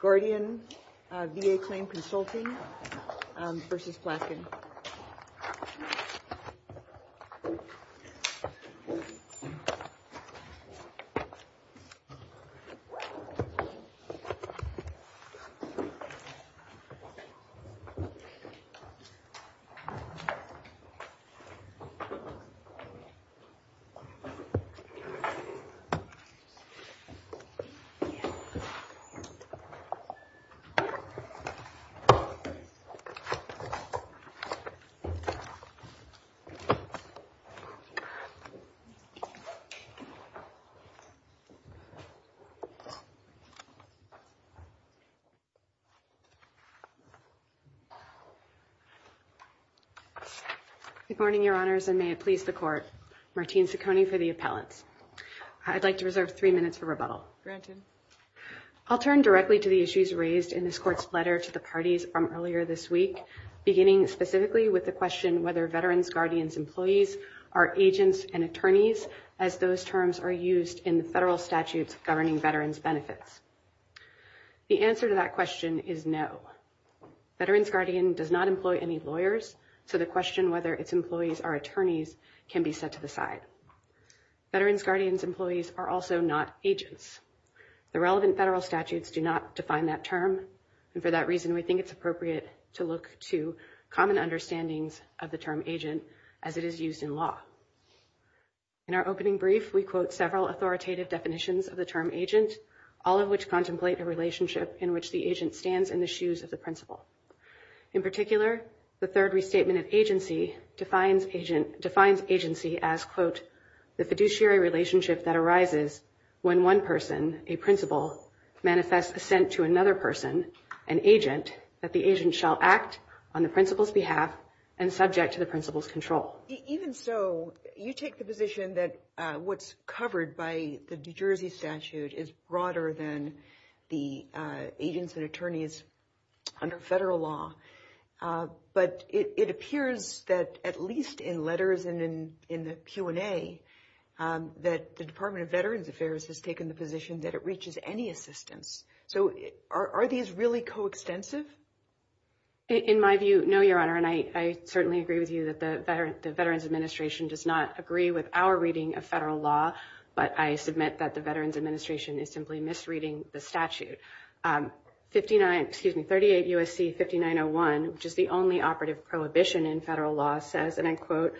Guardian VA Claim Consulting versus Platkin. Good morning, Your Honors, and may it please the Court, Martine Saccone for the appellate. I'd like to reserve three minutes for rebuttal. I'll turn directly to the issues raised in this Court's letter to the parties from earlier this week, beginning specifically with the question whether Veterans Guardian's employees are agents and attorneys, as those terms are used in federal statutes governing veterans' benefits. The answer to that question is no. Veterans Guardian does not employ any lawyers, so the question whether its employees are attorneys can be set to the side. Veterans Guardian's employees are also not agents. The relevant federal statutes do not define that term, and for that reason, we think it's appropriate to look to common understandings of the term agent as it is used in law. In our opening brief, we quote several authoritative definitions of the term agent, all of which contemplate the relationship in which the agent stands in the shoes of the principal. In particular, the third restatement of agency defines agency as, quote, the fiduciary relationship that arises when one person, a principal, manifests assent to another person, an agent, that the agent shall act on the principal's behalf and subject to the principal's control. Even so, you take the position that what's covered by the New Jersey statute is broader than the agents and attorneys under federal law, but it appears that, at least in letters and in the Q&A, that the Department of Veterans Affairs has taken the position that it reaches any assistance. So, are these really coextensive? In my view, no, Your Honor, and I certainly agree with you that the Veterans Administration does not agree with our reading of federal law, but I submit that the Veterans Administration is simply misreading the statute. 38 U.S.C. 5901, which is the only operative prohibition in federal law, says, and I quote,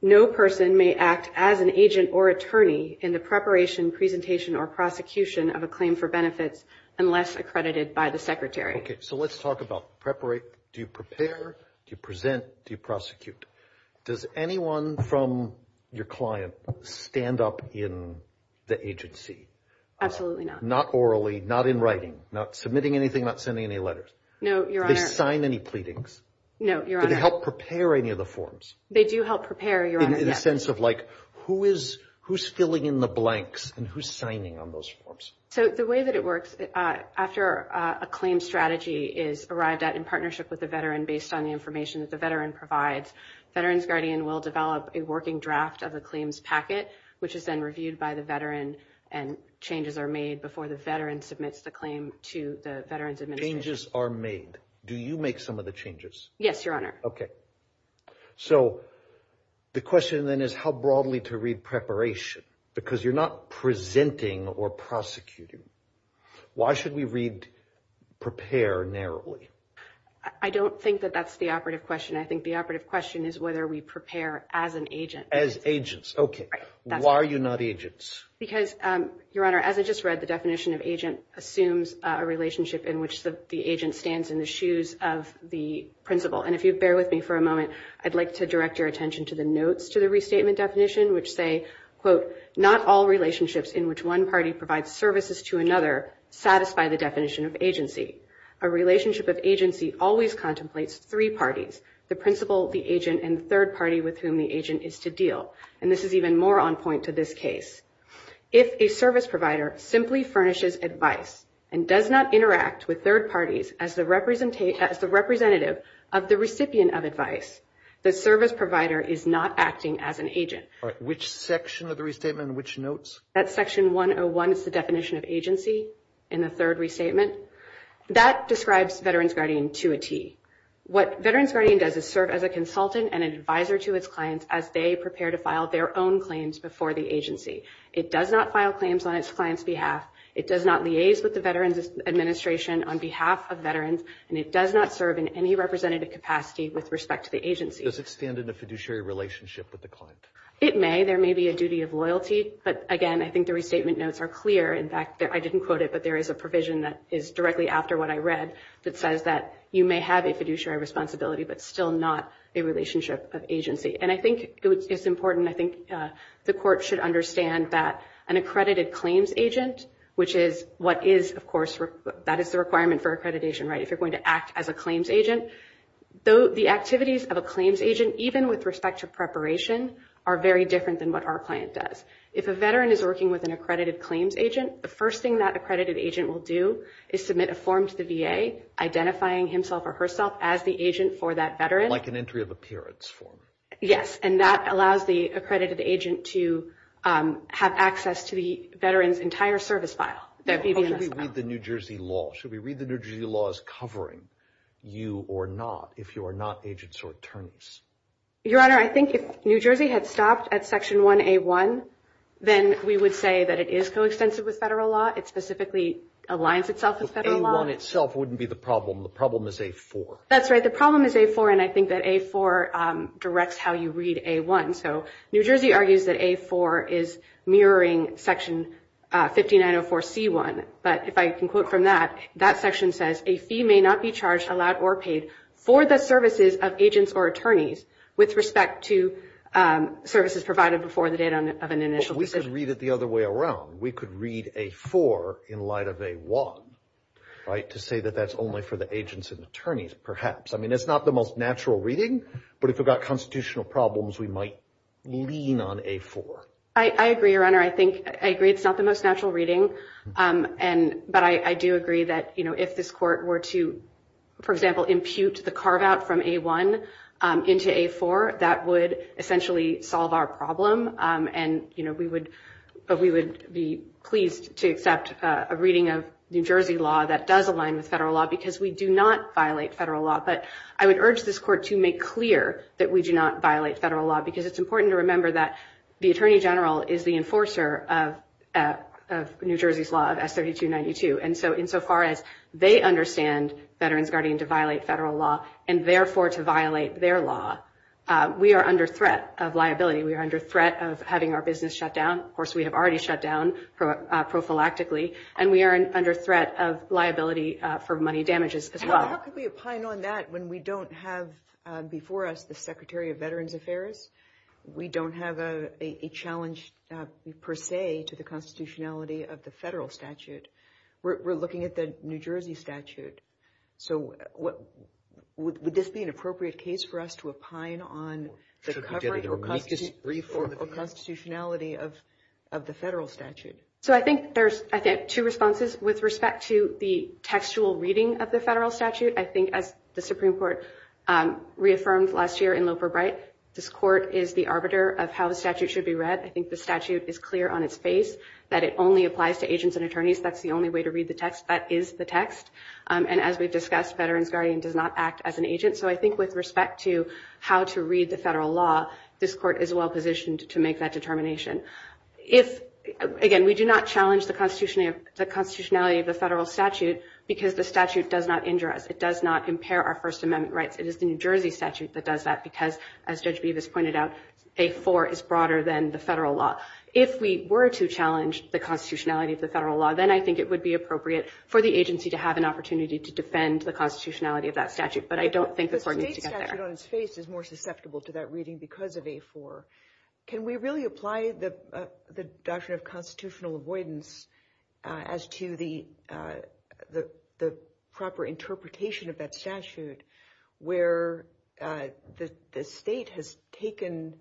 no person may act as an agent or attorney in the preparation, presentation, or prosecution of a claim for benefits unless accredited by the Secretary. Okay. So, let's talk about prepare. Do you prepare? Do you present? Do you prosecute? Does anyone from your client stand up in the agency? Absolutely not. Not orally, not in writing, not submitting anything, not sending any letters? No, Your Honor. Do they sign any pleadings? No, Your Honor. Do they help prepare any of the forms? They do help prepare, Your Honor. In the sense of, like, who's filling in the blanks and who's signing on those forms? So, the way that it works, after a claim strategy is arrived at in partnership with the veteran based on the information that the veteran provides, Veterans Guardian will develop a working draft of the claims packet, which has been reviewed by the veteran, and changes are made before the veteran submits the claim to the Veterans Administration. Changes are made. Do you make some of the changes? Yes, Your Honor. Okay. So, the question then is how broadly to read preparation? Because you're not presenting or prosecuting. Why should we read prepare narrowly? I don't think that that's the operative question. I think the operative question is whether we prepare as an agent. As agents. Okay. Why are you not agents? Because, Your Honor, as I just read, the definition of agent assumes a relationship in which the agent stands in the shoes of the principal. And if you bear with me for a moment, I'd like to direct your attention to the notes to the restatement definition, which say, quote, not all relationships in which one party provides services to another satisfy the definition of agency. A relationship of agency always contemplates three parties, the principal, the agent, and third party with whom the agent is to deal. And this is even more on point to this case. If a service provider simply furnishes advice and does not interact with third parties as the representative of the recipient of advice, the service provider is not acting as an agent. All right. Which section of the restatement, in which notes? That section 101 is the definition of agency in the third restatement. That describes Veterans Guardian to a T. What Veterans Guardian does is serve as a consultant and advisor to its clients as they prepare to file their own claims before the agency. It does not file claims on its client's behalf. It does not liaise with the Veterans Administration on behalf of veterans. And it does not serve in any representative capacity with respect to the agency. Does it stand in a fiduciary relationship with the client? It may. There may be a duty of agency. But again, I think the restatement notes are clear. In fact, I didn't quote it, but there is a provision that is directly after what I read that says that you may have a fiduciary responsibility, but still not a relationship of agency. And I think it's important. I think the court should understand that an accredited claims agent, which is what is, of course, that is the requirement for accreditation, right? If you're going to act as a claims agent. Though the activities of a claims agent, even with respect to preparation, are very different than what our client says. If a veteran is working with an accredited claims agent, the first thing that accredited agent will do is submit a form to the VA identifying himself or herself as the agent for that veteran. Like an entry of appearance form. Yes. And that allows the accredited agent to have access to the veteran's entire service file. Should we read the New Jersey law? Should we read the New Jersey law as covering you or not if you are not agents or attorneys? Your Honor, I think if New Jersey had stopped at section 1A1, then we would say that it is co-extensive with federal law. It specifically aligns itself with federal law. A1 itself wouldn't be the problem. The problem is A4. That's right. The problem is A4, and I think that A4 directs how you read A1. So New Jersey argues that A4 is mirroring section 5904C1. But if I can quote from that, that section says, a fee may not be charged, allowed, or paid for the services of agents or attorneys with respect to services provided before the date of an initial decision. We could read it the other way around. We could read A4 in light of A1, right, to say that that's only for the agents and attorneys, perhaps. I mean, that's not the most natural reading, but if we've got constitutional problems, we might lean on A4. I agree, Your Honor. I think, I agree it's not the most natural reading, but I do agree that if this court were to, for example, impute the carve-out from A1 into A4, that would essentially solve our problem, but we would be pleased to accept a reading of New Jersey law that does align with federal law because we do not violate federal law. But I would urge this court to make clear that we do not violate federal law because it's important to remember that the Attorney General is the enforcer of New Jersey's law of S3292. And so, insofar as they understand Veterans Guardian to violate federal law and therefore to violate their law, we are under threat of liability. We are under threat of having our business shut down. Of course, we have already shut down prophylactically, and we are under threat of liability for money damages as well. How could we opine on that when we don't have before us the Secretary of Veterans Affairs? We don't have a challenge per se to the constitutionality of the federal statute. We're looking at the New Jersey statute. So, would this be an appropriate case for us to opine on the coverage or constitutionality of the federal statute? So, I think there's, I think, two responses with respect to the textual reading of the federal statute. I think, as the Supreme Court reaffirmed last year in Loper Bright, this court is the arbiter of how the statute should be read. I think the statute is clear on its face that it only applies to agents and attorneys. That's the only way to read the text that is the text. And as we've discussed, Veterans Guardian does not act as an agent. So, I think with respect to how to read the federal law, this court is well-positioned to make that determination. Again, we do not challenge the constitutionality of the federal statute because the statute does not injure us. It does not impair our First Amendment rights. It is the New Jersey statute that does that because, as Judge Beavis pointed out, A4 is broader than the federal law. If we were to challenge the constitutionality of the federal law, then I think it would be appropriate for the agency to have an opportunity to defend the constitutionality of that statute. But I don't think the court needs to get there. The state statute on its face is susceptible to that reading because of A4. Can we really apply the doctrine of constitutional avoidance as to the proper interpretation of that statute where the state has taken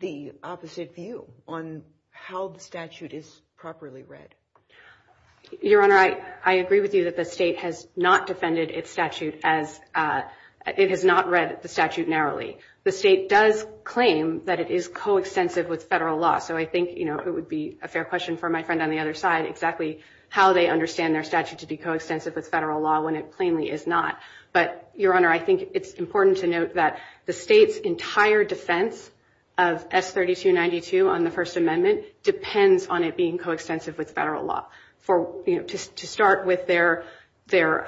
the opposite view on how the statute is properly read? Your Honor, I agree with you that the state has not defended its statute as it has not read the statute narrowly. The state does claim that it is coextensive with federal law. So, I think it would be a fair question for my friend on the other side exactly how they understand their statute to be coextensive with federal law when it plainly is not. But, Your Honor, I think it's important to note that the state's entire defense of S. 3292 on the First Amendment depends on it being coextensive with federal law. To start with their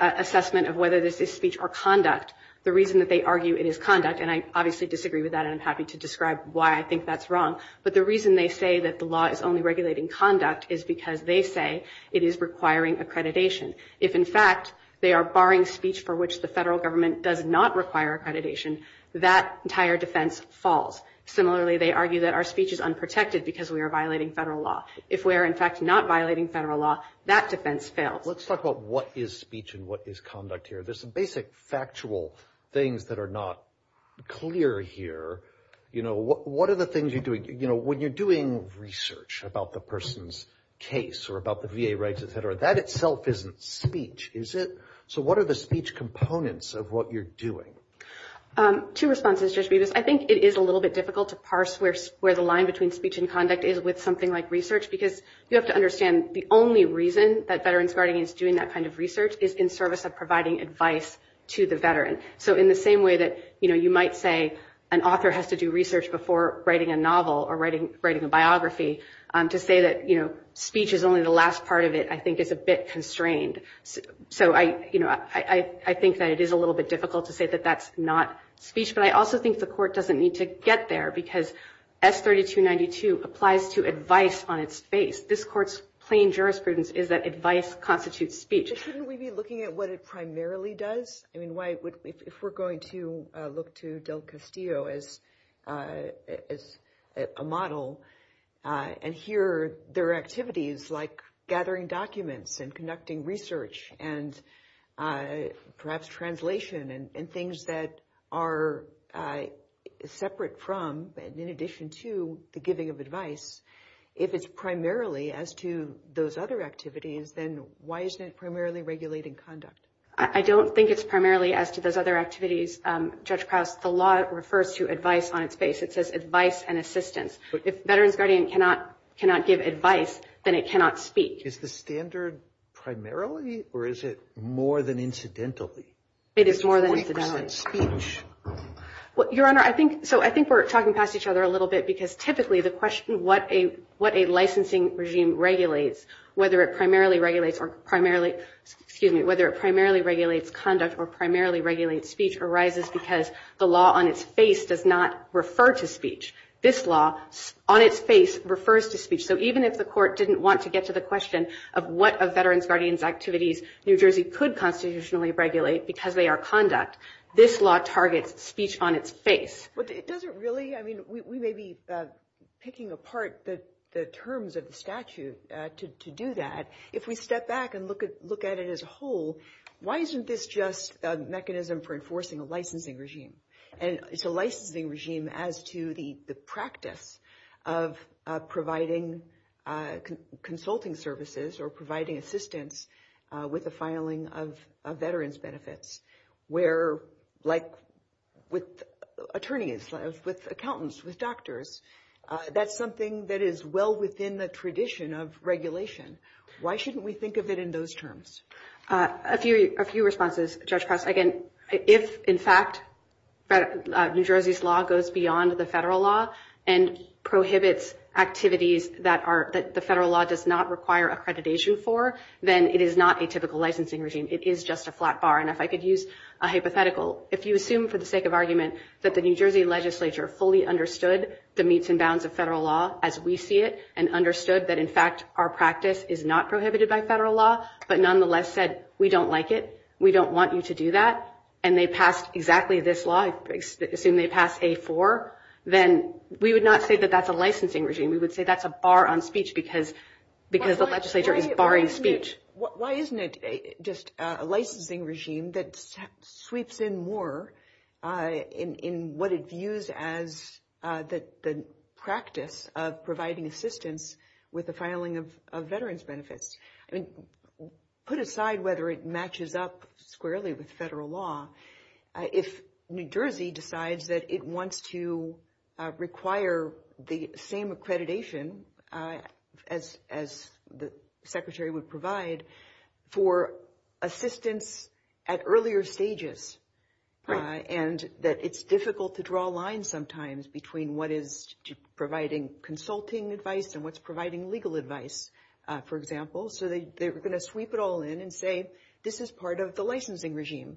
assessment of whether this is speech or conduct, the reason that they argue it is conduct, and I obviously disagree with that and I'm happy to describe why I think that's wrong, but the reason they say that the law is only regulating conduct is because they say it is requiring accreditation. If, in fact, they are barring speech for which the federal government does not require accreditation, that entire defense falls. Similarly, they argue that our speech is protected because we are violating federal law. If we are, in fact, not violating federal law, that defense fails. Let's talk about what is speech and what is conduct here. There's some basic factual things that are not clear here. You know, what are the things you're doing, you know, when you're doing research about the person's case or about the VA rights, etc., that itself isn't speech, is it? So, what are the speech components of what you're doing? Two responses, Judge Rivas. I think it is a little bit difficult to parse where the line between speech and conduct is with something like research because you have to understand the only reason that Veterans Guarding is doing that kind of research is in service of providing advice to the veteran. So, in the same way that, you know, you might say an author has to do research before writing a novel or writing a biography, to say that, you know, speech is only the last part of it, I think it's a bit constrained. So, I, you know, I think that it is a little bit difficult to say that that's not speech, but I also think the court doesn't need to get there because S3292 applies to advice on its face. This court's plain jurisprudence is that advice constitutes speech. Shouldn't we be looking at what it primarily does? I mean, why, if we're going to look to Del Castillo as a model and hear their activities like gathering documents and conducting research and perhaps translation and things that are separate from, in addition to, the giving of advice, if it's primarily as to those other activities, then why isn't it primarily regulating conduct? I don't think it's primarily as to those other activities. Judge Krauss, the law refers to advice on its face. It says advice and assistance. If Veterans Guarding cannot give advice, then it cannot speak. Is the standard primarily or is it more than incidentally? It is more than incidentally speech. Your Honor, I think, so I think we're talking past each other a little bit because typically the question of what a licensing regime regulates, whether it primarily regulates or primarily, excuse me, whether it primarily regulates conduct or primarily regulates speech arises because the law on its face does not refer to speech. This law on its refers to speech. So even if the court didn't want to get to the question of what a Veterans Guardian's activities New Jersey could constitutionally regulate because they are conduct, this law targets speech on its face. But it doesn't really, I mean, we may be picking apart the terms of the statute to do that. If we step back and look at it as a whole, why isn't this just a mechanism for enforcing a licensing regime? And it's a licensing regime as to the practice of providing consulting services or providing assistance with the filing of Veterans benefits where like with attorneys, with accountants, with doctors, that's something that is well within the tradition of regulation. Why shouldn't we think of it in those terms? A few responses, Judge Cross. Again, if in fact New Jersey's law goes beyond the federal law and prohibits activities that the federal law does not require accreditation for, then it is not a typical licensing regime. It is just a flat bar. And if I could use a hypothetical, if you assume for the sake of argument that the New Jersey legislature fully understood the meets and bounds of federal law as we see it and understood that in fact our practice is not prohibited by federal law, but nonetheless said, we don't like it, we don't want you to do that, and they pass exactly this law. Assume they pass A4, then we would not say that that's a licensing regime. We would say that's a bar on speech because the legislature is barring speech. Why isn't it just a licensing regime that sweeps in more in what is used as the practice of providing assistance with the filing of Veterans benefits? I mean, put aside whether it matches up squarely with federal law, if New Jersey decides that it wants to require the same accreditation as the Secretary would provide for assistance at earlier stages and that it's difficult to draw a line sometimes between what is providing consulting advice and what's providing legal advice, for example, so they were going to sweep it all in and say, this is part of the licensing regime.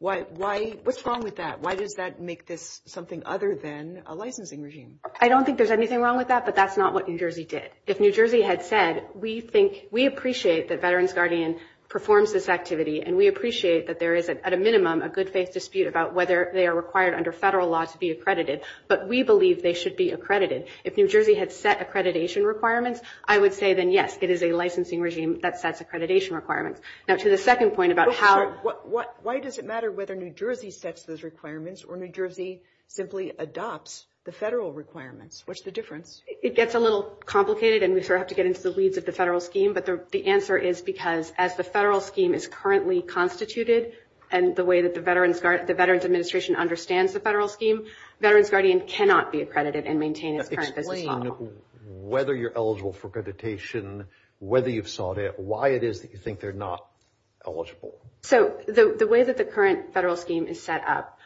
What's wrong with that? Why does that make this something other than a licensing regime? I don't think there's anything wrong with that, but that's not what New Jersey did. If New Jersey had said, we appreciate that Veterans Guardian performs this activity and we appreciate that there is at a minimum a good faith dispute about whether they are required under federal law to be accredited, but we believe they should be accredited. If New Jersey had set accreditation requirements, I would say then, yes, it is a licensing regime that sets accreditation requirements. Now, to the second point about how... Why does it matter whether New Jersey sets those requirements or New Jersey simply adopts the federal requirements? What's the difference? It gets a little complicated and we have to get into the weeds of the federal scheme, but the answer is because as the federal scheme is currently constituted and the way that the Veterans Administration understands the federal scheme, Veterans Guardian cannot be accredited and maintain its current business model. Explain whether you're eligible for accreditation, whether you've sought it, why it is that you think they're not eligible. So, the way that the current federal scheme is set up,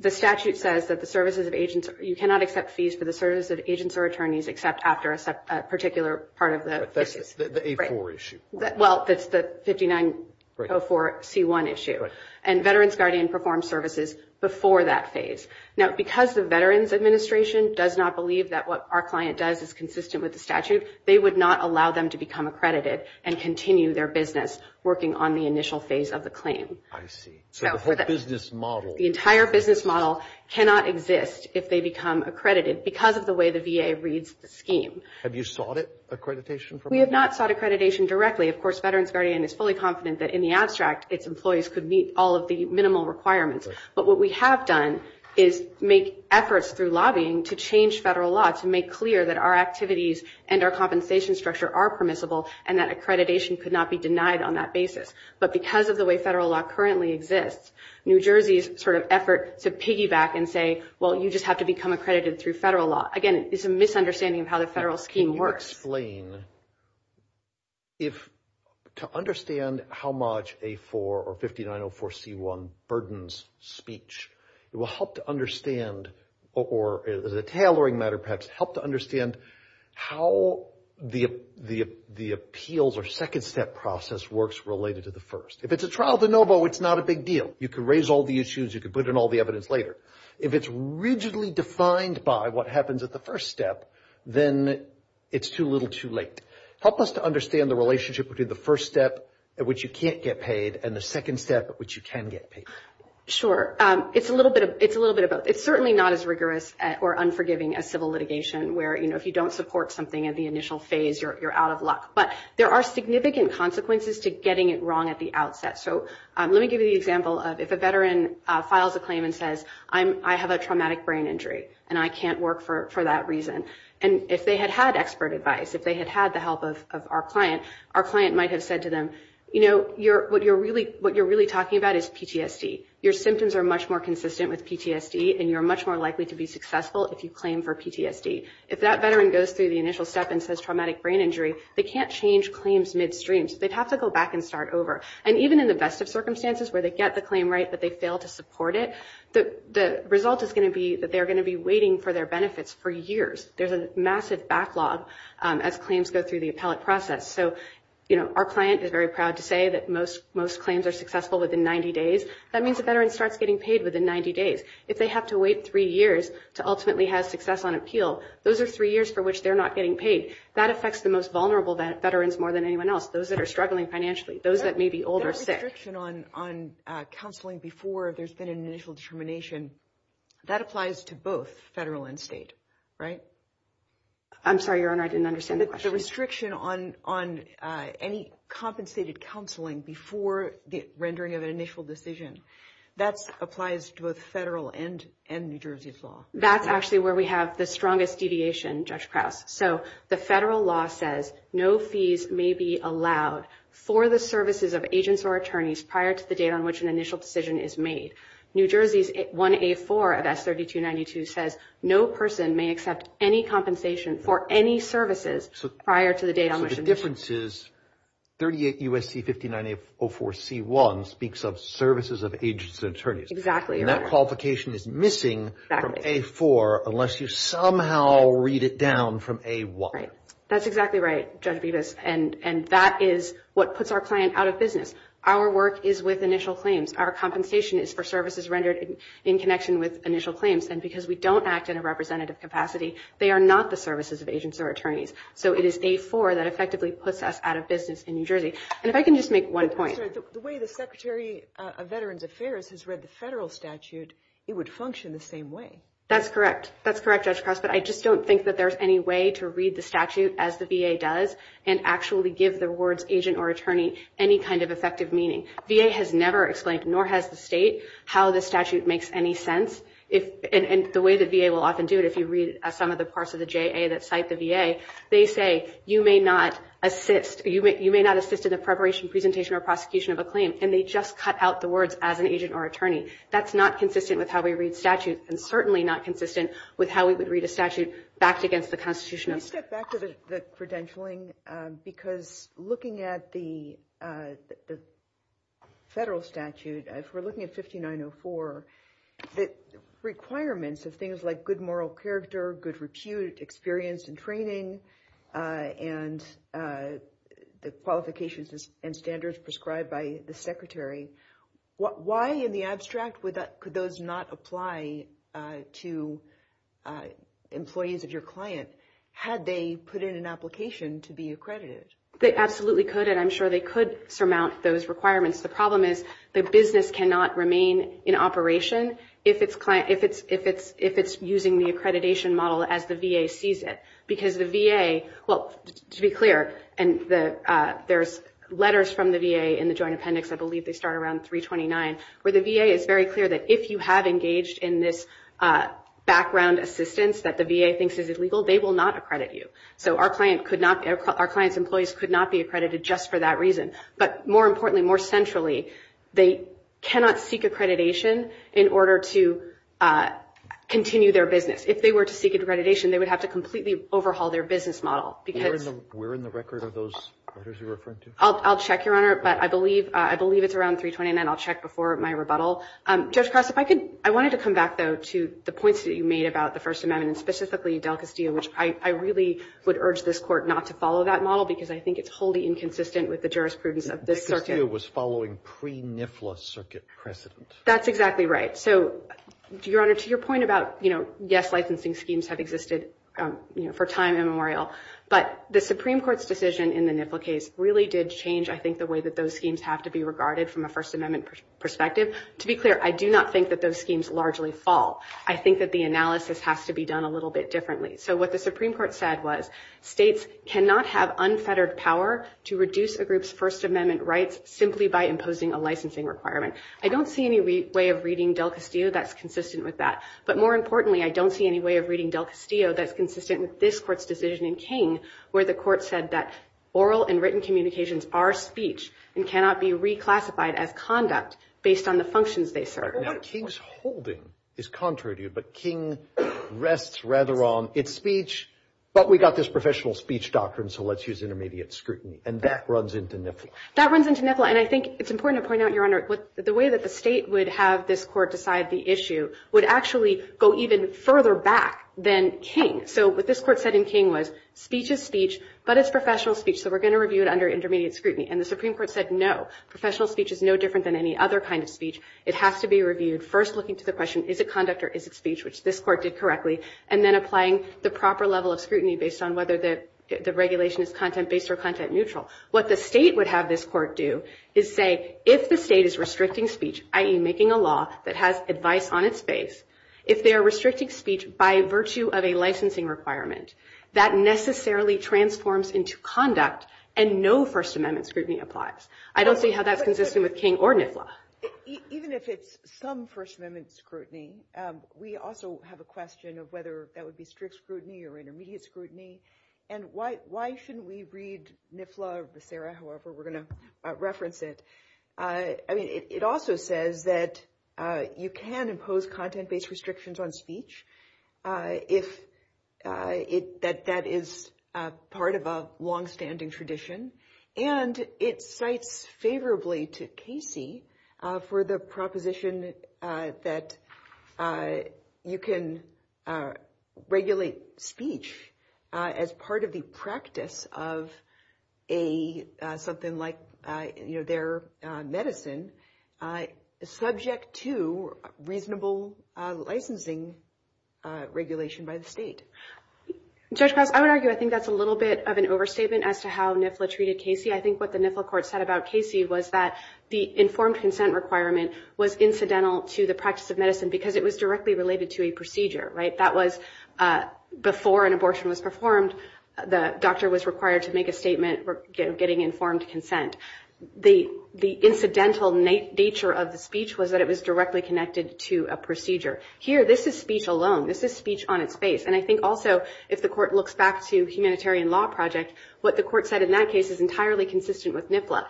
the statute says that the services of agents... You cannot accept fees for the service of agents or attorneys except after a particular part of the... The A4 issue. Well, it's the 5904C1 issue and Veterans Guardian performs Services before that phase. Now, because the Veterans Administration does not believe that what our client does is consistent with the statute, they would not allow them to become accredited and continue their business working on the initial phase of the claim. I see. So, the whole business model... The entire business model cannot exist if they become accredited because of the way the VA reads the scheme. Have you sought accreditation from them? We have not sought accreditation directly. Of course, Veterans Guardian is fully confident that in the abstract, its employees could meet all of the minimal requirements, but what we have done is make efforts through lobbying to change federal law to make clear that our activities and our compensation structure are permissible and that accreditation could not be denied on that basis. But because of the way federal law currently exists, New Jersey's sort of effort to piggyback and say, well, you just have to become accredited through federal law. Again, it's a misunderstanding of how the federal scheme works. So, to explain, to understand how much A4 or 5904C1 burdens speech, it will help to understand, or as a tailoring matter perhaps, help to understand how the appeals or second step process works related to the first. If it's a trial de novo, it's not a big deal. You can raise all the issues. You can put in all the evidence later. If it's rigidly defined by what happens at the first step, then it's too little too late. Help us to understand the relationship between the first step at which you can't get paid and the second step at which you can get paid. Sure. It's certainly not as rigorous or unforgiving as civil litigation where, you know, if you don't support something in the initial phase, you're out of luck. But there are significant consequences to getting it wrong at the outset. Let me give you the example of if a veteran files a claim and says, I have a traumatic brain injury and I can't work for that reason. If they had had expert advice, if they had had the help of our client, our client might have said to them, you know, what you're really talking about is PTSD. Your symptoms are much more consistent with PTSD and you're much more likely to be successful if you claim for PTSD. If that veteran goes through the initial step and says traumatic brain injury, they can't change claims midstream. They'd have to go back and start over. And even in the best of circumstances where they get the claim right but they fail to support it, the result is going to be that they're going to be waiting for their benefits for years. There's a massive backlog as claims go through the appellate process. So, you know, our client is very proud to say that most claims are successful within 90 days. That means the veteran starts getting paid within 90 days. If they have to wait three years to ultimately have success on appeal, those are three years for which they're not getting paid. That affects the most vulnerable veterans more than anyone else, those that are struggling financially, those that may be older. The restriction on counseling before there's been an initial determination, that applies to both federal and state, right? I'm sorry, Your Honor, I didn't understand the question. The restriction on any compensated counseling before the rendering of an initial decision, that applies to both federal and New Jersey's law. That's actually where we have the strongest deviation, Judge Krauss. So, the federal law says no fees may be allowed for the services of agents or attorneys prior to the date on which an initial decision is made. New Jersey's 1A4 of S3292 says no person may accept any compensation for any services prior to the date on which the decision is made. The difference is 38 U.S.C. 5904C1 speaks of services of agents and attorneys. Exactly. That qualification is missing from A4 unless you somehow read it down from A1. That's exactly right, Judge Bevis, and that is what puts our client out of business. Our work is with initial claims. Our compensation is for services rendered in connection with initial claims. And because we don't act in a representative capacity, they are not the services of agents or attorneys. So, it is A4 that effectively puts us out of business in New Jersey. And if I can just make one point. The way the Secretary of Veterans Affairs has read the federal statute, it would function the same way. That's correct. That's correct, Judge Krauss. But I just don't think that there's any way to read the statute as the VA does and actually give the words agent or attorney any kind of effective meaning. VA has never explained, nor has the state, how the statute makes any sense. And the way the VA will often do it, if you read some of the parts of the JA that cite the VA, they say, you may not assist in the preparation, presentation, or prosecution of a claim. And they just cut out the words as an agent or attorney. That's not consistent with how we read statutes, and certainly not consistent with how we would read a statute backed against the Constitution. Can I step back to the credentialing? Because looking at the federal statute, if we're looking at 5904, the requirements of moral character, good repute, experience, and training, and the qualifications and standards prescribed by the Secretary, why in the abstract could those not apply to employees of your client had they put in an application to be accredited? They absolutely could. And I'm sure they could surmount those requirements. The problem is the business cannot remain in operation if it's using the accreditation model as the VA sees it. Because the VA, well, to be clear, and there's letters from the VA in the Joint Appendix, I believe they start around 329, where the VA is very clear that if you have engaged in this background assistance that the VA thinks is illegal, they will not accredit you. So our client's employees could not be accredited just for that reason. But more importantly, more centrally, they cannot seek accreditation in order to continue their business. If they were to seek accreditation, they would have to completely overhaul their business model. We're in the record of those orders you're referring to? I'll check, Your Honor. But I believe it's around 329. I'll check before my rebuttal. Judge Cross, I wanted to come back, though, to the points that you made about the First Amendment, specifically Del Castillo, which I really would urge this Court not to follow that model, because I think it's wholly inconsistent with the jurisprudence of this circuit. Del Castillo was following pre-NFLA circuit precedents. That's exactly right. So, Your Honor, to your point about, yes, licensing schemes have existed for time immemorial, but the Supreme Court's decision in the NFLA case really did change, I think, the way that those schemes have to be regarded from a First Amendment perspective. To be clear, I do not think that those schemes largely fall. I think that the analysis has to be done a little bit differently. So what the Supreme Court said was states cannot have unfettered power to reduce a group's First Amendment rights simply by imposing a licensing requirement. I don't see any way of reading Del Castillo that's consistent with that. But more importantly, I don't see any way of reading Del Castillo that's consistent with this Court's decision in King, where the Court said that oral and written communications are speech and cannot be reclassified as conduct based on the functions they serve. King's holding is contrary to you, but King rests rather on its speech. But we got this professional speech doctrine, so let's use intermediate scrutiny. And that runs into NFLA. That runs into NFLA, and I think it's important to point out, Your Honor, the way that the state would have this Court decide the issue would actually go even further back than King. So what this Court said in King was, speech is speech, but it's professional speech, so we're going to review it under intermediate scrutiny. And the Supreme Court said, no, professional speech is no different than any other kind of speech. It has to be reviewed, first looking to the question, is it conduct or is it speech, which this Court did correctly, and then applying the proper level of scrutiny based on whether the regulation is content-based or content-neutral. What the state would have this Court do is say, if the state is restricting speech, i.e., making a law that has advice on its face, if they are restricting speech by virtue of a licensing requirement, that necessarily transforms into conduct, and no First Amendment scrutiny applies. I don't see how that's consistent with King or NFLA. Even if it's some First Amendment scrutiny, we also have a question of whether that would be strict scrutiny or intermediate scrutiny, and why shouldn't we read NFLA or the SARA, however we're going to reference it? I mean, it also says that you can impose content-based restrictions on speech if that is part of a longstanding tradition. And it cites favorably to Casey for the proposition that you can regulate speech as part of the practice of something like their medicine, subject to reasonable licensing regulation by the state. Judge Cox, I would argue I think that's a little bit of an overstatement as to how NFLA treated Casey. I think what the NFLA court said about Casey was that the informed consent requirement was incidental to the practice of medicine because it was directly related to a procedure, right? That was before an abortion was performed, the doctor was required to make a statement for getting informed consent. The incidental nature of the speech was that it was directly connected to a procedure. Here, this is speech alone. This is speech on its face. And I think also, if the court looks back to humanitarian law projects, what the court said in that case is entirely consistent with NFLA.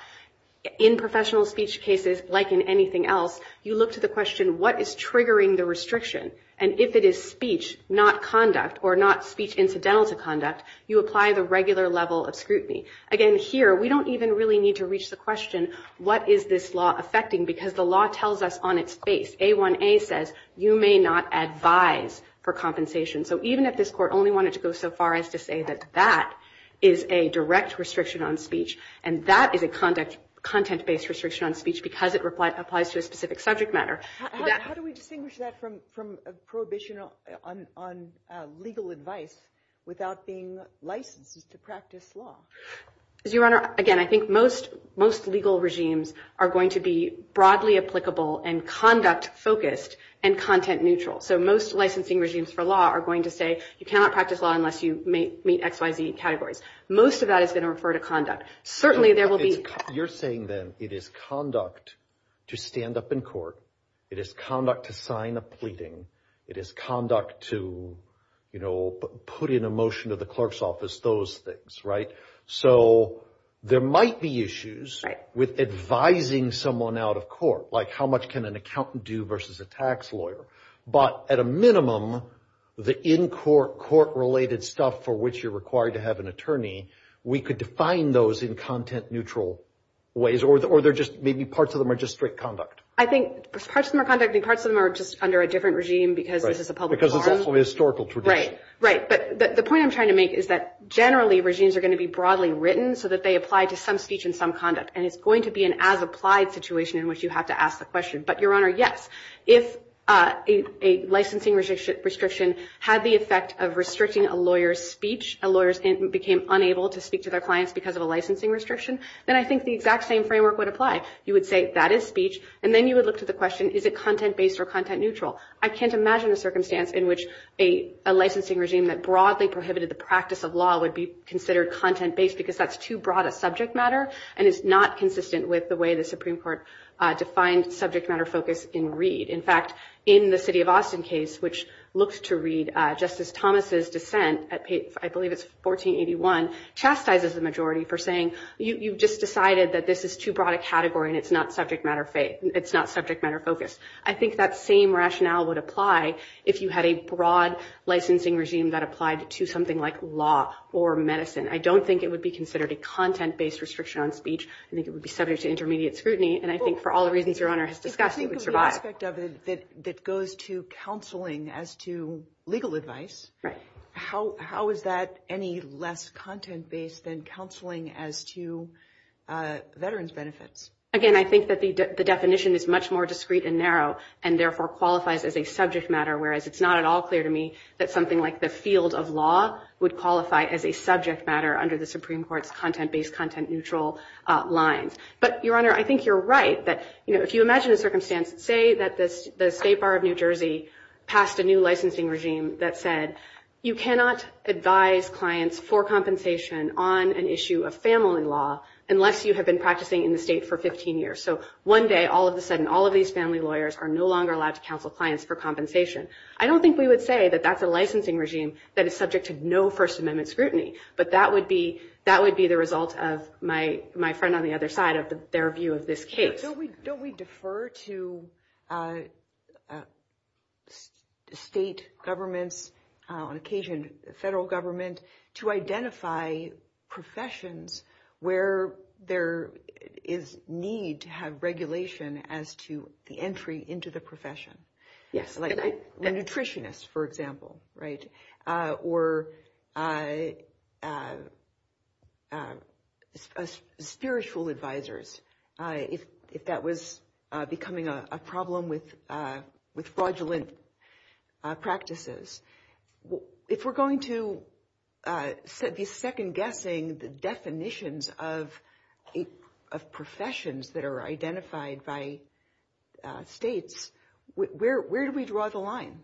In professional speech cases, like in anything else, you look to the question, what is triggering the restriction? And if it is speech, not conduct, or not speech incidental to conduct, you apply the regular level of scrutiny. Again, here, we don't even really need to reach the question, what is this law affecting? Because the law tells us on its face. A1A says, you may not advise for compensation. So even if this court only wanted to go so far as to say that that is a direct restriction on speech, and that is a content-based restriction on speech because it applies to a specific subject matter. How do we distinguish that from prohibition on legal advice without being licensed to practice law? Your Honor, again, I think most legal regimes are going to be broadly applicable and conduct focused and content neutral. So most licensing regimes for law are going to say, you cannot practice law unless you meet X, Y, Z categories. Most of that is going to refer to conduct. Certainly, there will be- You're saying, then, it is conduct to stand up in court. It is conduct to sign a pleading. It is conduct to put in a motion to the clerk's office, those things, right? So there might be issues with advising someone out of court, like how much can an accountant do versus a tax lawyer? But at a minimum, the in-court, court-related stuff for which you're required to have an attorney, we could define those in content-neutral ways, or maybe parts of them are just strict conduct. I think parts of them are conduct, and parts of them are just under a different regime because this is a public forum. Because of the historical tradition. Right, right. But the point I'm trying to make is that, generally, regimes are going to be broadly written so that they apply to some speech and some conduct. And it's going to be an as-applied situation in which you have to ask the question. But, Your Honor, yes. If a licensing restriction had the effect of restricting a lawyer's speech, a lawyer became unable to speak to their clients because of a licensing restriction, then I think the exact same framework would apply. You would say, that is speech, and then you would look to the question, is it content-based or content-neutral? I can't imagine a circumstance in which a licensing regime that broadly prohibited the practice of law would be considered content-based because that's too broad a subject matter, and it's not consistent with the way the Supreme Court defined subject matter focus in Reed. In fact, in the city of Austin case, which looks to Reed, Justice Thomas' dissent, I believe it's 1481, chastises the majority for saying, you've just decided that this is too broad a category, and it's not subject matter focus. I think that same rationale would apply if you had a broad licensing regime that applied to something like law or medicine. I don't think it would be considered a content-based restriction on speech. I think it would be subject to intermediate scrutiny, and I think for all reasons your Honor has discussed, it would survive. I think the aspect of it that goes to counseling as to legal advice, how is that any less content-based than counseling as to veterans' benefits? Again, I think that the definition is much more discreet and narrow, and therefore qualifies as a subject matter, whereas it's not at all clear to me that something like the field of law would qualify as a subject matter under the Supreme Court's content-based, content-neutral lines. But Your Honor, I think you're right that, you know, if you imagine the circumstance, say that the State Bar of New Jersey passed a new licensing regime that said you cannot advise clients for compensation on an issue of family law unless you have been practicing in the state for 15 years. So one day, all of a sudden, all of these family lawyers are no longer allowed to counsel clients for compensation. I don't think we would say that that's a licensing regime that is subject to no First Amendment scrutiny, but that would be the result of my friend on the other side of their view of this case. Don't we defer to state government, on occasion federal government, to identify professions where there is need to have regulation as to the entry into the profession? Yes. Like nutritionists, for example, right? Or spiritual advisors, if that was becoming a problem with fraudulent practices. If we're going to be second-guessing the definitions of professions that are identified by states, where do we draw the line?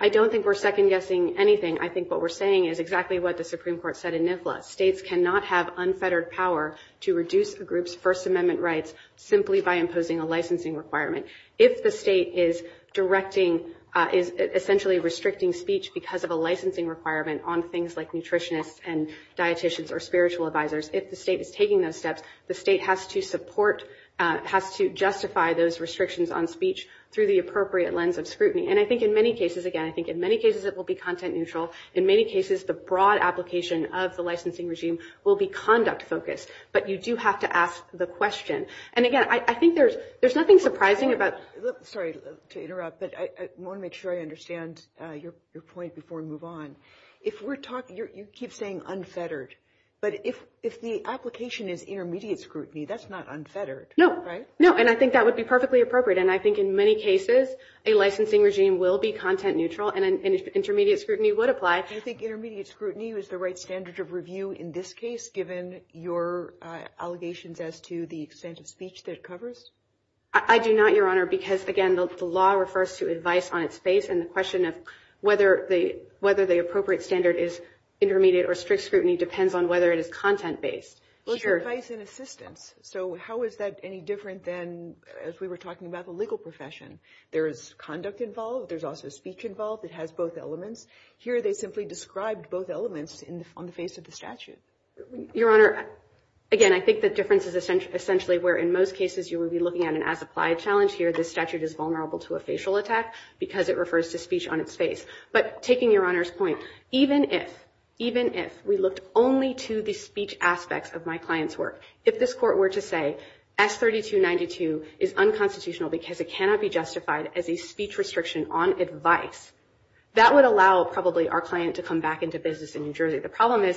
I don't think we're second-guessing anything. I think what we're saying is exactly what the Supreme Court said in NIFLA. States cannot have unfettered power to reduce a group's First Amendment rights simply by imposing a licensing requirement. If the state is directing, essentially restricting speech because of a licensing requirement on things like nutritionists and dieticians or spiritual advisors, if the state is taking those steps, the state has to justify those restrictions on speech through the appropriate lens of scrutiny. And I think in many cases, again, I think in many cases it will be content-neutral. In many cases, the broad application of the licensing regime will be conduct-focused. But you do have to ask the question. And again, I think there's nothing surprising about... Sorry to interrupt, but I want to make sure I understand your point before we move on. If we're talking... You keep saying unfettered. But if the application is intermediate scrutiny, that's not unfettered, right? No, no. And I think that would be perfectly appropriate. And I think in many cases, a licensing regime will be content-neutral, and intermediate scrutiny would apply. Do you think intermediate scrutiny is the right standard of review in this case, given your allegations as to the extent of speech that it covers? I do not, Your Honor, because, again, the law refers to advice on its face. And the question of whether the appropriate standard is intermediate or strict scrutiny depends on whether it is content-based. Sure. Advice and assistance. So how is that any different than as we were talking about the legal profession? There's conduct involved. There's also speech involved. It has both elements. Here, they simply described both elements on the face of the statute. Your Honor, again, I think the difference is essentially where, in most cases, you would be looking at an as-applied challenge. Here, the statute is vulnerable to a facial attack because it refers to speech on its face. But taking Your Honor's point, even if we looked only to the speech aspects of my client's work, if this court were to say, S-3292 is unconstitutional because it cannot be justified as a speech restriction on advice, that would allow, probably, our client to come back into business in New Jersey. The problem is,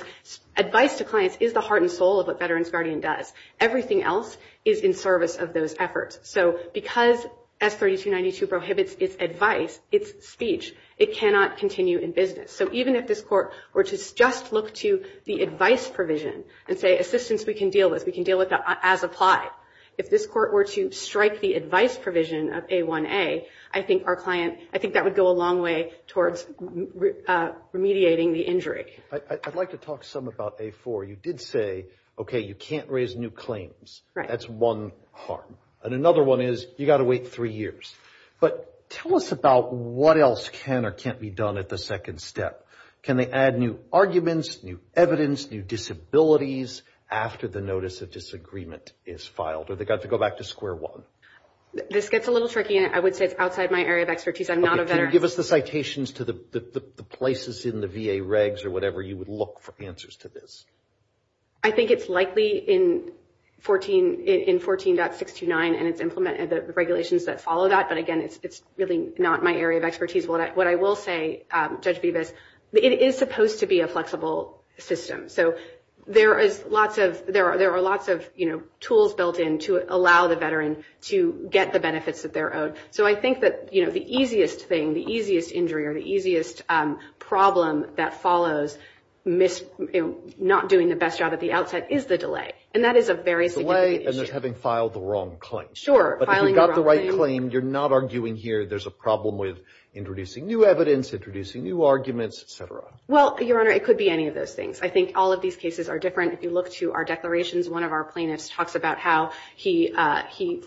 advice to clients is the heart and soul of what Veterans Guardian does. Everything else is in service of those efforts. So because S-3292 prohibits its advice, its speech, it cannot continue in business. So even if this court were to just look to the advice provision and say, assistance we can deal with. We can deal with that as applied. If this court were to strike the advice provision of A-1A, I think that would go a long way towards remediating the injury. I'd like to talk some about A-4. You did say, OK, you can't raise new claims. That's one harm. And another one is, you've got to wait three years. But tell us about what else can or can't be done at the second step. Can they add new arguments, new evidence, new disabilities after the notice of disagreement is filed? Or do they have to go back to square one? This gets a little tricky, and I would say it's outside my area of expertise. I'm not a veteran. Can you give us the citations to the places in the VA regs or whatever you would look for answers to this? I think it's likely in 14.629, and it's implemented the regulations that follow that. But again, it's really not my area of expertise. What I will say, Judge Bevis, it is supposed to be a flexible system. So there are lots of tools built in to allow the veteran to get the benefits that they're owed. So I think that the easiest thing, the easiest injury, or the easiest problem that follows not doing the best job at the outset is the delay. And that is a very significant issue. Delay and then having filed the wrong claim. Sure. But if you got the right claim, you're not arguing here there's a problem with introducing new evidence, introducing new arguments, et cetera. Well, Your Honor, it could be any of those things. I think all of these cases are different. If you look to our declarations, one of our plaintiffs talks about how he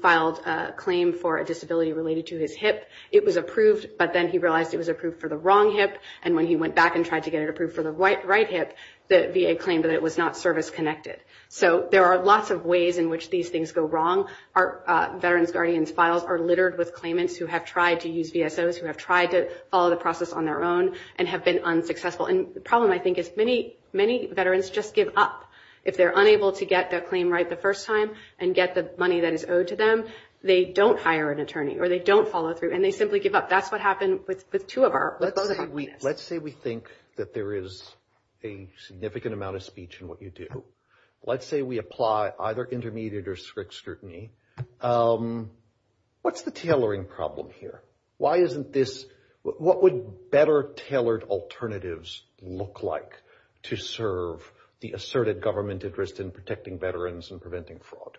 filed a claim for a disability related to his hip. It was approved, but then he realized it was approved for the wrong hip. And when he went back and tried to get it approved for the right hip, the VA claimed that it was not service-connected. So there are lots of ways in which these things go wrong. Our veterans guardians filed are littered with claimants who have tried to use VSOs, who have tried to follow the process on their own, and have been unsuccessful. And the problem, I think, is many veterans just give up. If they're unable to get their claim right the first time and get the money that is owed to them, they don't hire an attorney, or they don't follow through, and they simply give up. That's what happened with the two of our, with both of them. Let's say we think that there is a significant amount of speech in what you do. Let's say we apply either intermediate or strict scrutiny. What's the tailoring problem here? Why isn't this, what would better tailored alternatives look like to serve the asserted government interest in protecting veterans and preventing fraud?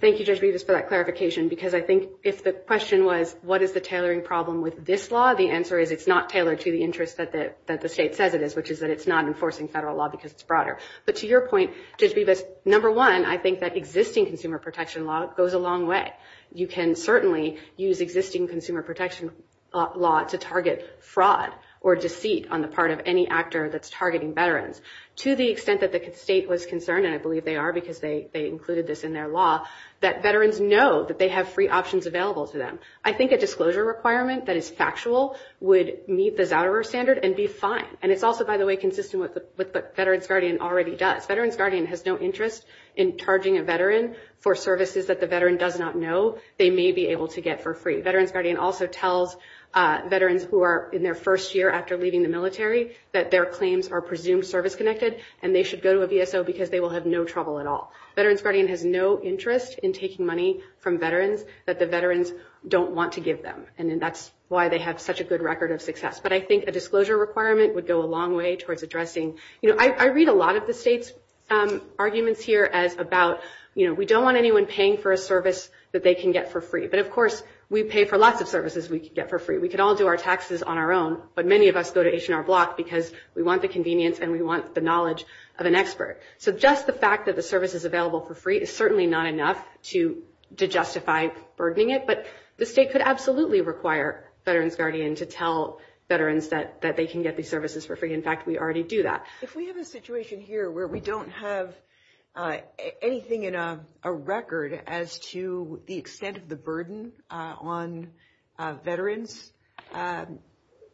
Thank you, Judge Rivas, for that clarification. Because I think if the question was, what is the tailoring problem with this law? The answer is it's not tailored to the interest that the state says it is, which is that it's not enforcing federal law because it's broader. But to your point, Judge Rivas, number one, I think that existing consumer protection law goes a long way. You can certainly use existing consumer protection law to target fraud or deceit on the part of any actor that's targeting veterans. To the extent that the state was concerned, and I believe they are because they included this in their law, that veterans know that they have free options available to them. I think a disclosure requirement that is factual would meet the Valor standard and be fine. And it's also, by the way, consistent with what Veterans Guardian already does. Veterans Guardian has no interest in charging a veteran for services that the veteran does not know they may be able to get for free. Veterans Guardian also tells veterans who are in their first year after leaving the military that their claims are presumed service-connected and they should go to a VSO because they will have no trouble at all. Veterans Guardian has no interest in taking money from veterans that the veterans don't want to give them. And that's why they have such a good record of success. But I think a disclosure requirement would go a long way towards addressing, you know, I read a lot of the state's arguments here as about, you know, we don't want anyone paying for a service that they can get for free. But of course, we pay for lots of services we can get for free. We can all do our taxes on our own. But many of us go to H&R Block because we want the convenience and we want the knowledge of an expert. So just the fact that the service is available for free is certainly not enough to justify burgling it. But the state could absolutely require Veterans Guardian to tell veterans that they can get these services for free. In fact, we already do that. If we have a situation here where we don't have anything in a record as to the extent of the burden on veterans,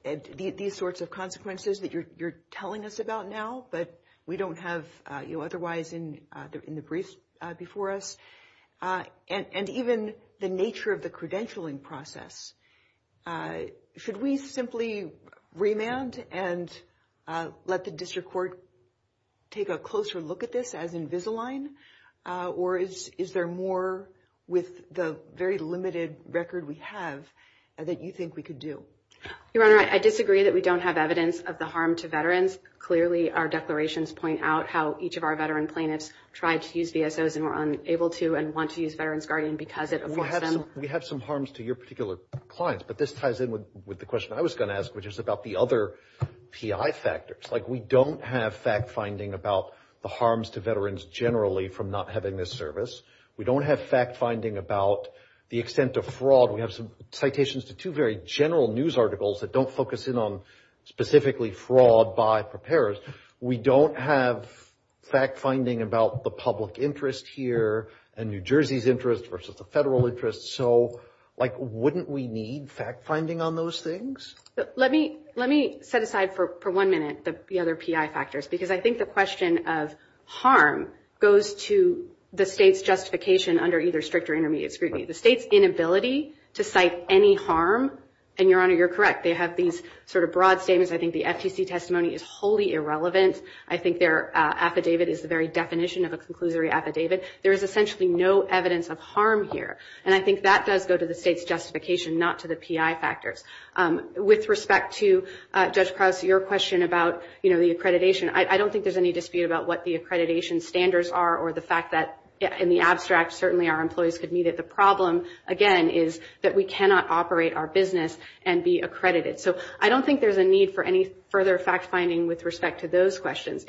these sorts of consequences that you're telling us about now, but we don't have, you know, otherwise in the briefs before us, and even the nature of the credentialing process, should we simply remand and let the district court take a closer look at this as Invisalign? Or is there more with the very limited record we have that you think we could do? Your Honor, I disagree that we don't have evidence of the harm to veterans. Clearly, our declarations point out how each of our veteran plaintiffs tried to use VSOs and were unable to and want to use Veterans Guardian because of them. We have some harms to your particular clients, but this ties in with the question I was going to ask, which is about the other PI factors. Like we don't have fact-finding about the harms to veterans generally from not having this service. We don't have fact-finding about the extent of fraud. We have some citations to two very general news articles that don't focus in on specifically fraud by preparers. We don't have fact-finding about the public interest here and New Jersey's interest versus the federal interest. So, like, wouldn't we need fact-finding on those things? Let me set aside for one minute the other PI factors, because I think the question of harm goes to the state's justification under either strict or intermediate scrutiny. The state's inability to cite any harm, and, Your Honor, you're correct. They have these sort of broad statements. I think the FTC testimony is wholly irrelevant. I think their affidavit is the very definition of a conclusory affidavit. There is essentially no evidence of harm here, and I think that does go to the state's justification, not to the PI factors. With respect to, Judge Krause, your question about the accreditation, I don't think there's any dispute about what the accreditation standards are or the fact that in the abstract, certainly our employees could meet it. The problem, again, is that we cannot operate our business and be accredited. So, I don't think there's a need for any further fact-finding with respect to those questions.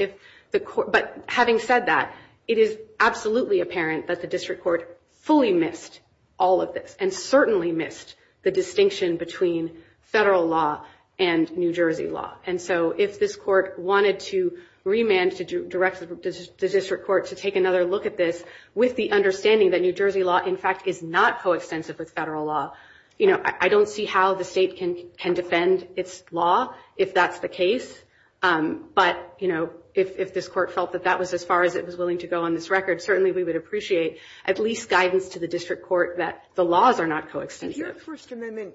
But having said that, it is absolutely apparent that the district court fully missed all of this and certainly missed the distinction between federal law and New Jersey law. And so, if this court wanted to remand to direct the district court to take another look at this with the understanding that New Jersey law, in fact, is not coextensive with federal law, you know, I don't see how the state can defend its law if that's the case. But, you know, if this court felt that that was as far as it was willing to go on this record, certainly we would appreciate at least guidance to the district court that the laws are not coextensive. Your First Amendment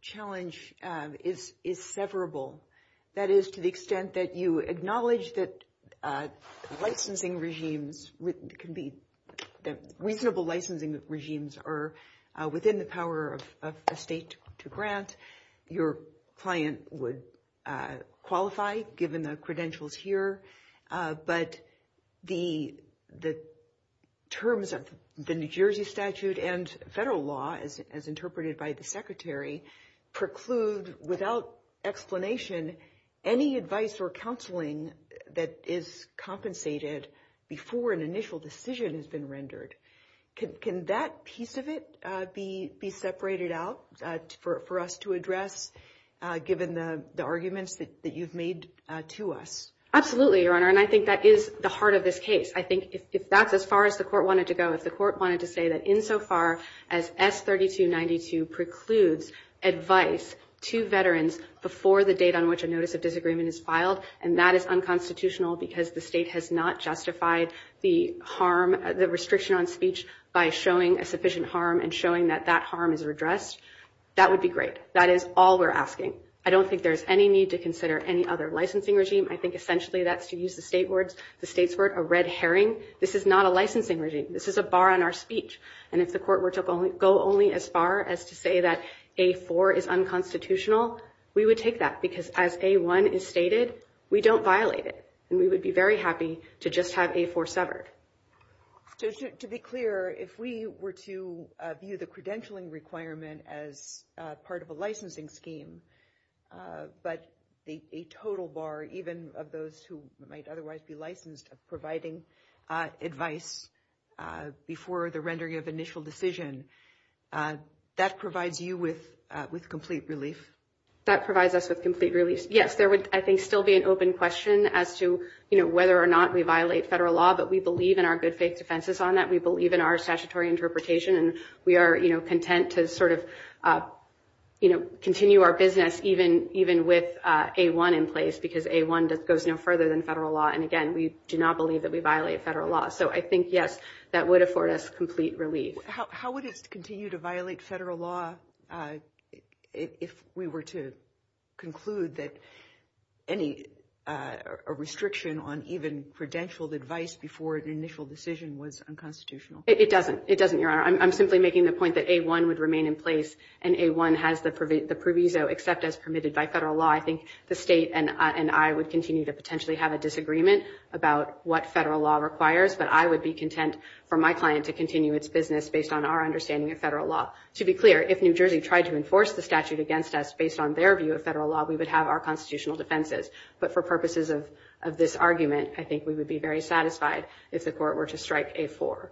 challenge is severable. That is, to the extent that you acknowledge that licensing regimes can be – that reasonable licensing regimes are within the power of a state to grant, your client would qualify, given the credentials here. But the terms of the New Jersey statute and federal law, as interpreted by the Secretary, preclude, without explanation, any advice or counseling that is compensated before an initial decision has been rendered. Can that piece of it be separated out for us to address, given the arguments that you've made to us? Absolutely, Your Honor, and I think that is the heart of this case. I think if that's as far as the court wanted to go, if the court wanted to say that in Section 532.92 precludes advice to veterans before the date on which a notice of disagreement is filed, and that is unconstitutional because the state has not justified the harm – the restriction on speech by showing a sufficient harm and showing that that harm is redressed, that would be great. That is all we're asking. I don't think there's any need to consider any other licensing regime. I think essentially that's to use the state's word, a red herring. This is not a licensing regime. This is a bar on our speech. And if the court were to go only as far as to say that A4 is unconstitutional, we would take that, because as A1 is stated, we don't violate it, and we would be very happy to just have A4 severed. So to be clear, if we were to view the credentialing requirement as part of a licensing scheme, but a total bar, even of those who might otherwise be licensed, of providing advice before the rendering of initial decision, that provides you with complete relief? That provides us with complete relief. Yes, there would, I think, still be an open question as to whether or not we violate federal law, but we believe in our good faith defenses on that. We believe in our statutory interpretation, and we are content to sort of continue our business even with A1 in place, because A1 goes no further than federal law. And again, we do not believe that we violate federal law. So I think, yes, that would afford us complete relief. How would it continue to violate federal law if we were to conclude that any restriction on even credentialed advice before an initial decision was unconstitutional? It doesn't. It doesn't, Your Honor. I'm simply making the point that A1 would remain in place, and A1 has the proviso, except as permitted by federal law. I think the state and I would continue to potentially have a disagreement about what federal law requires, but I would be content for my client to continue its business based on our understanding of federal law. To be clear, if New Jersey tried to enforce the statute against us based on their view of federal law, we would have our constitutional defenses. But for purposes of this argument, I think we would be very satisfied if the court were to strike A4.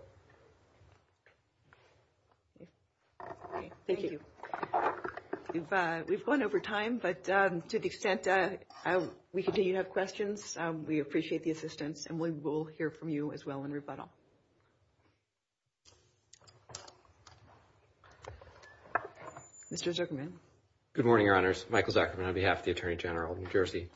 Thank you. We've gone over time, but to the extent that we continue to have questions, we appreciate the assistance, and we will hear from you as well in rebuttal. Mr. Zuckerman? Good morning, Your Honors. Michael Zuckerman on behalf of the Attorney General of New Jersey.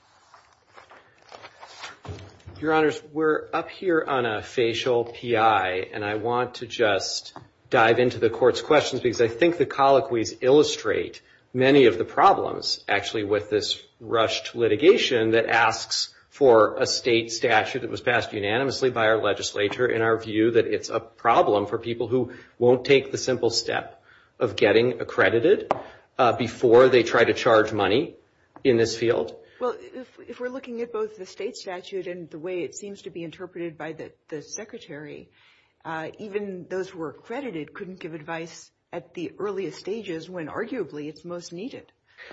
Your Honors, we're up here on a facial PI, and I want to just dive into the court's questions because I think the colloquies illustrate many of the problems, actually, with this rushed litigation that asks for a state statute that was passed unanimously by our legislature in our view that it's a problem for people who won't take the simple step of getting accredited before they try to charge money in this field. Well, if we're looking at both the state statute and the way it seems to be interpreted by the Secretary, even those who are accredited couldn't give advice at the earliest stages when arguably it's most needed.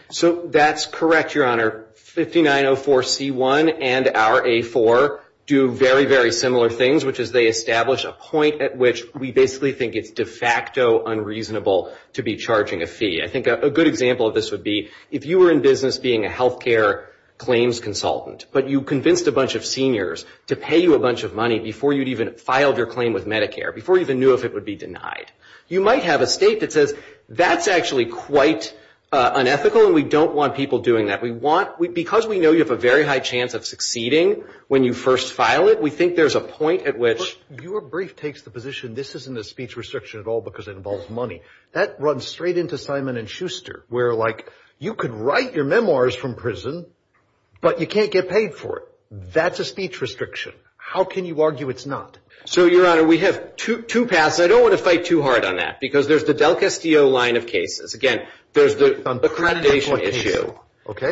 So that's correct, Your Honor. 5904C1 and our A4 do very, very similar things, which is they establish a point at which we basically think it's de facto unreasonable to be charging a fee. I think a good example of this would be if you were in business being a healthcare claims consultant, but you convinced a bunch of seniors to pay you a bunch of money before you'd even filed your claim with Medicare, before you even knew if it would be denied. You might have a state that says that's actually quite unethical, and we don't want people doing that. Because we know you have a very high chance of succeeding when you first file it, we think there's a point at which— Your brief takes the position this isn't a speech restriction at all because it involves money. That runs straight into Simon & Schuster, where you could write your memoirs from prison, but you can't get paid for it. That's a speech restriction. How can you argue it's not? So, Your Honor, we have two paths. I don't want to fight too hard on that, because there's the Del Castillo line of cases. Again, there's the accreditation issue,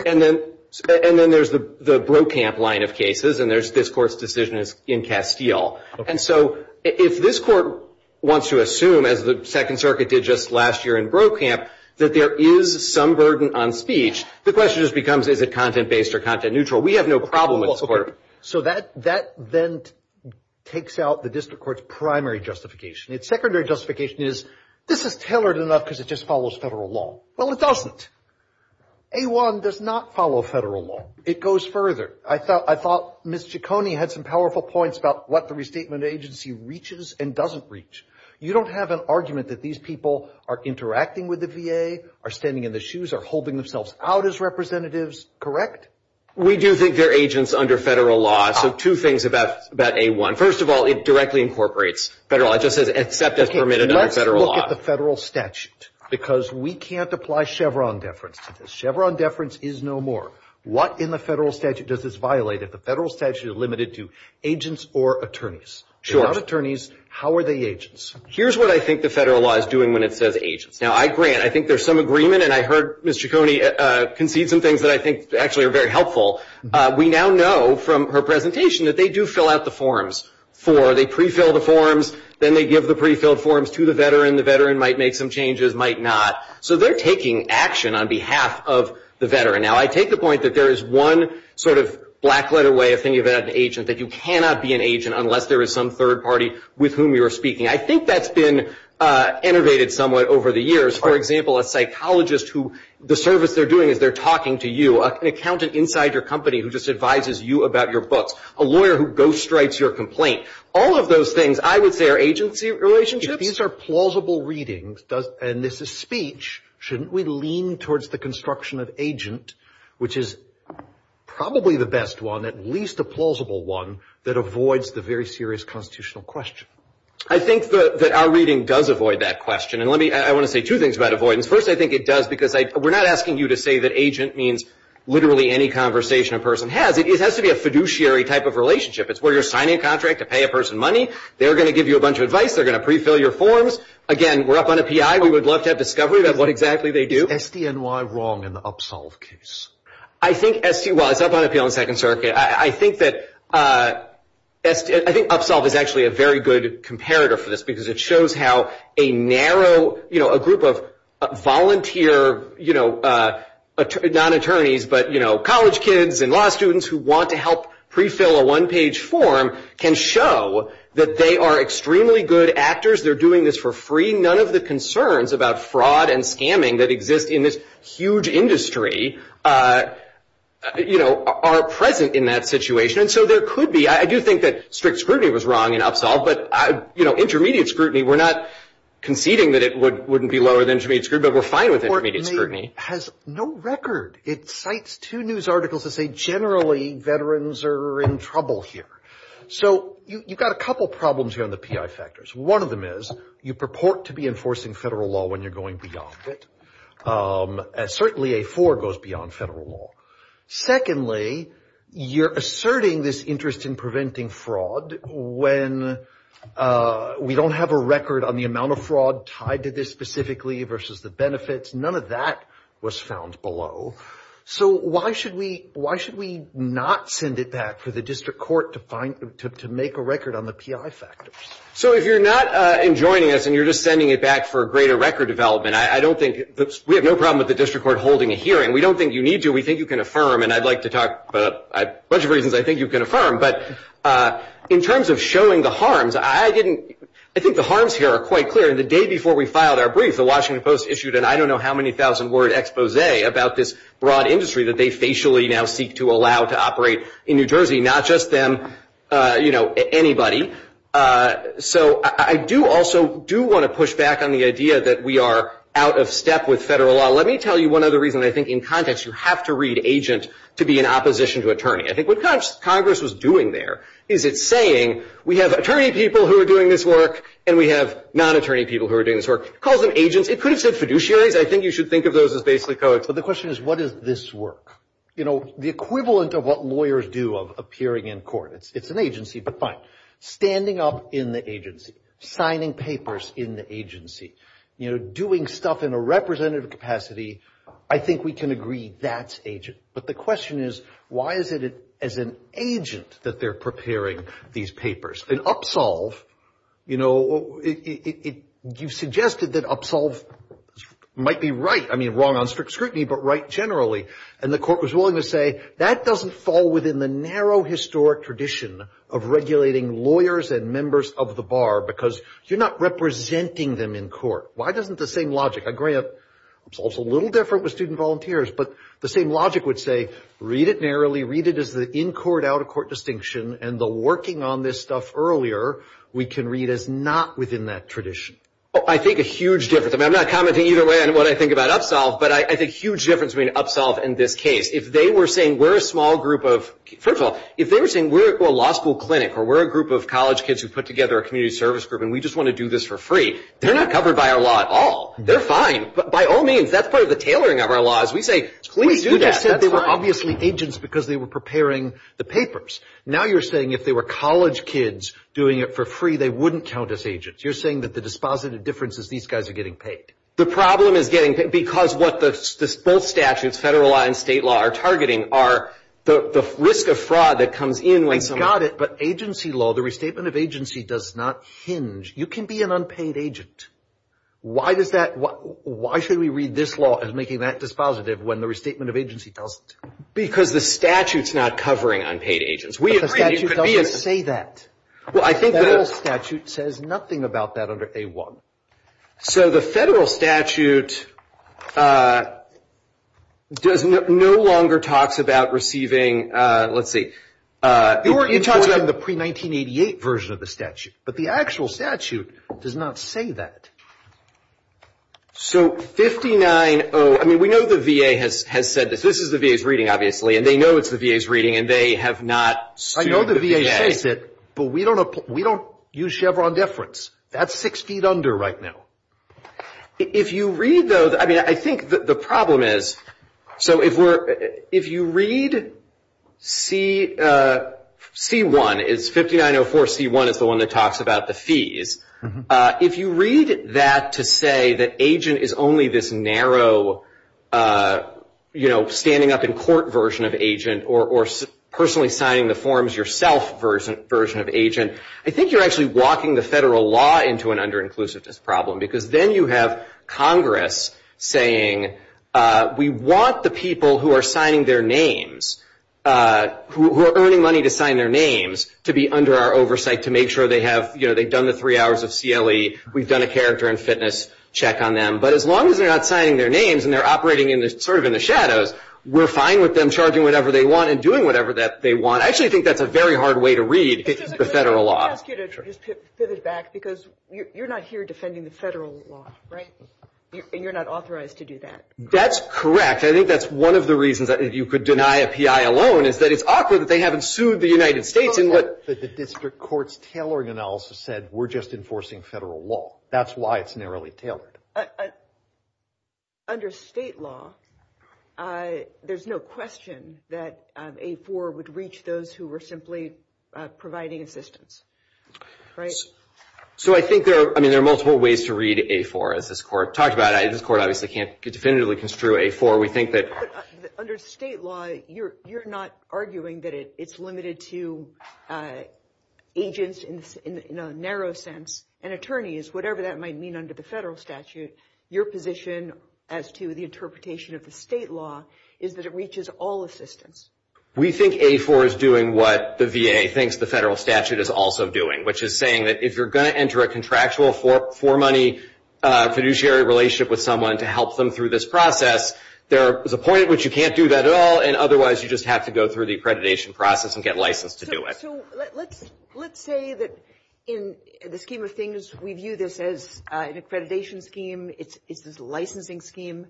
and then there's the Brokamp line of cases, and there's this court's decision in Castillo. And so, if this court wants to assume, as the Second Circuit did just last year in Brokamp, that there is some burden on speech, the question just becomes, is it content-based or content-neutral? We have no problem with support. So that then takes out the district court's primary justification. Its secondary justification is, this is tailored enough because it just follows federal law. Well, it doesn't. A-1 does not follow federal law. It goes further. I thought Ms. Ciccone had some powerful points about what the restatement agency reaches and doesn't reach. You don't have an argument that these people are interacting with the VA, are standing in the shoes, are holding themselves out as representatives, correct? We do think they're agents under federal law. So two things about A-1. First of all, it directly incorporates federal law. Except it's permitted under federal law. Let's look at the federal statute. Because we can't apply Chevron deference to this. Chevron deference is no more. What in the federal statute does this violate if the federal statute is limited to agents or attorneys? Sure. Without attorneys, how are they agents? Here's what I think the federal law is doing when it says agents. Now, I agree. And I think there's some agreement. And I heard Ms. Ciccone concede some things that I think actually are very helpful. We now know from her presentation that they do fill out the forms for, they pre-fill the forms, then they give the pre-filled forms to the veteran. The veteran might make some changes, might not. So they're taking action on behalf of the veteran. Now, I take the point that there is one sort of black letter way of thinking about an agent, that you cannot be an agent unless there is some third party with whom you are speaking. I think that's been innovated somewhat over the years. For example, a psychologist who the service they're doing is they're talking to you. An accountant inside your company who just advises you about your book. A lawyer who ghost writes your complaint. All of those things I would say are agency relationships. These are plausible readings. And this is speech. Shouldn't we lean towards the construction of agent, which is probably the best one, at least a plausible one that avoids the very serious constitutional question. I think that our reading does avoid that question. And let me, I want to say two things about avoidance. First, I think it does because we're not asking you to say that agent means literally any conversation a person has. It has to be a fiduciary type of relationship. It's where you're signing a contract to pay a person money. They're going to give you a bunch of advice. They're going to pre-fill your forms. Again, we're up on a PI. We would love to have discovery about what exactly they do. SDNY wrong in the Upsolve case. I think SD, well, it's up on appeal in Second Circuit. I think that, I think Upsolve is actually a very good comparator for this because it shows how a narrow, you know, a group of volunteer, you know, not attorneys, but, you know, college kids and law students who want to help pre-fill a one-page form can show that they are extremely good actors. They're doing this for free. None of the concerns about fraud and scamming that exist in this huge industry, you know, are present in that situation. And so there could be, I do think that strict scrutiny was wrong in Upsolve, but, you know, intermediate scrutiny, we're not conceding that it wouldn't be lower than intermediate scrutiny, but we're fine with intermediate scrutiny. Has no record. It cites two news articles that say generally veterans are in trouble here. So you've got a couple problems here on the PI factors. One of them is you purport to be enforcing federal law when you're going beyond it. Certainly, A4 goes beyond federal law. Secondly, you're asserting this interest in preventing fraud when we don't have a record on the amount of fraud tied to this specifically versus the benefits. None of that was found below. So why should we not send it back for the district court to find, to make a record on the PI factors? So if you're not enjoining us and you're just sending it back for a greater record development, I don't think, we have no problem with the district court holding a hearing. We don't think you need to. We think you can affirm, and I'd like to talk about a bunch of reasons I think you can affirm, but in terms of showing the harms, I didn't, I think the harms here are quite clear. The day before we filed our brief, the Washington Post issued an I don't know how many thousand word expose about this broad industry that they facially now seek to allow to operate in New Jersey, not just in, you know, anybody. So I do also do want to push back on the idea that we are out of step with federal law. Let me tell you one other reason I think in context you have to read agent to be in opposition to attorney. I think what Congress was doing there is it's saying we have attorney people who are doing this work and we have non-attorney people who are doing this work. Call them agents. It could have said fiduciary. I think you should think of those as basically codes. But the question is what is this work? You know, the equivalent of what lawyers do of appearing in court. It's an agency, but fine. Standing up in the agency, signing papers in the agency, you know, doing stuff in a representative capacity, I think we can agree that's agent. But the question is why is it as an agent that they're preparing these papers? In Upsolve, you know, you suggested that Upsolve might be right. I mean, wrong on strict scrutiny, but right generally. And the court was willing to say that doesn't fall within the narrow historic tradition of regulating lawyers and members of the bar because you're not representing them in court. Why isn't the same logic? I agree Upsolve's a little different with student volunteers, but the same logic would say read it narrowly, read it as the in-court, out-of-court distinction, and the working on this stuff earlier, we can read as not within that tradition. I think a huge difference. I mean, I'm not commenting either way on what I think about Upsolve, but I think a huge difference between Upsolve and this case. If they were saying we're a small group of, first of all, if they were saying we're a law school clinic or we're a group of college kids who put together a community service group and we just want to do this for free, they're not covered by our law at all. They're fine. By all means, that's part of the tailoring of our laws. We say we do that. We just said they were obviously agents because they were preparing the papers. Now you're saying if they were college kids doing it for free, they wouldn't count as agents. You're saying that the dispositive difference is these guys are getting paid. The problem is getting paid because what both statutes, federal law and state law, are targeting are the risk of fraud that comes in. I got it, but agency law, the restatement of agency does not hinge. You can be an unpaid agent. Why should we read this law as making that dispositive when the restatement of agency tells us to? Because the statute's not covering unpaid agents. The statute doesn't say that. The federal statute says nothing about that under A-1. So the federal statute no longer talks about receiving, let's see. You're talking about the pre-1988 version of the statute, but the actual statute does not say that. We know the VA has said this. This is the VA's reading, obviously, and they know it's the VA's reading, and they have not sued the VA. I know the VA states it, but we don't use Chevron deference. That's six feet under right now. If you read those, I think the problem is, if you read C-1, it's 5904 C-1, it's the one that talks about the fees. If you read that to say that agent is only this narrow standing up in court version of agent or personally signing the forms yourself version of agent, I think you're actually walking the federal law into an under-inclusiveness problem because then you have Congress saying, we want the people who are signing their names, who are earning money to sign their names, to be under our oversight, to make sure they've done the three hours of CLE, we've done a character and fitness check on them. But as long as they're not signing their names and they're operating in the shadows, we're fine with them charging whatever they want and doing whatever they want. I actually think that's a very hard way to read the federal law. Just to pivot back, because you're not here defending the federal law, right? And you're not authorized to do that. That's correct. I think that's one of the reasons that if you could deny a PI alone is that it's awkward that they haven't sued the United States in what the district court's tailoring analysis said, we're just enforcing federal law. That's why it's narrowly tailored. Under state law, there's no question that A4 would reach those who were simply providing assistance, right? So I think there are, I mean, there are multiple ways to read A4 as this court talked about. This court obviously can't definitively construe A4. Under state law, you're not arguing that it's limited to agents in a narrow sense and attorneys, whatever that might mean under the federal statute. Your position as to the interpretation of the state law is that it reaches all assistance. We think A4 is doing what the VA thinks the federal statute is also doing, which is saying that if you're going to enter a contractual for money fiduciary relationship with someone to help them through this process, there is a point at which you can't do that at all. And otherwise, you just have to go through the accreditation process and get licensed to do it. So let's say that in the scheme of things, we view this as an accreditation scheme. It's a licensing scheme.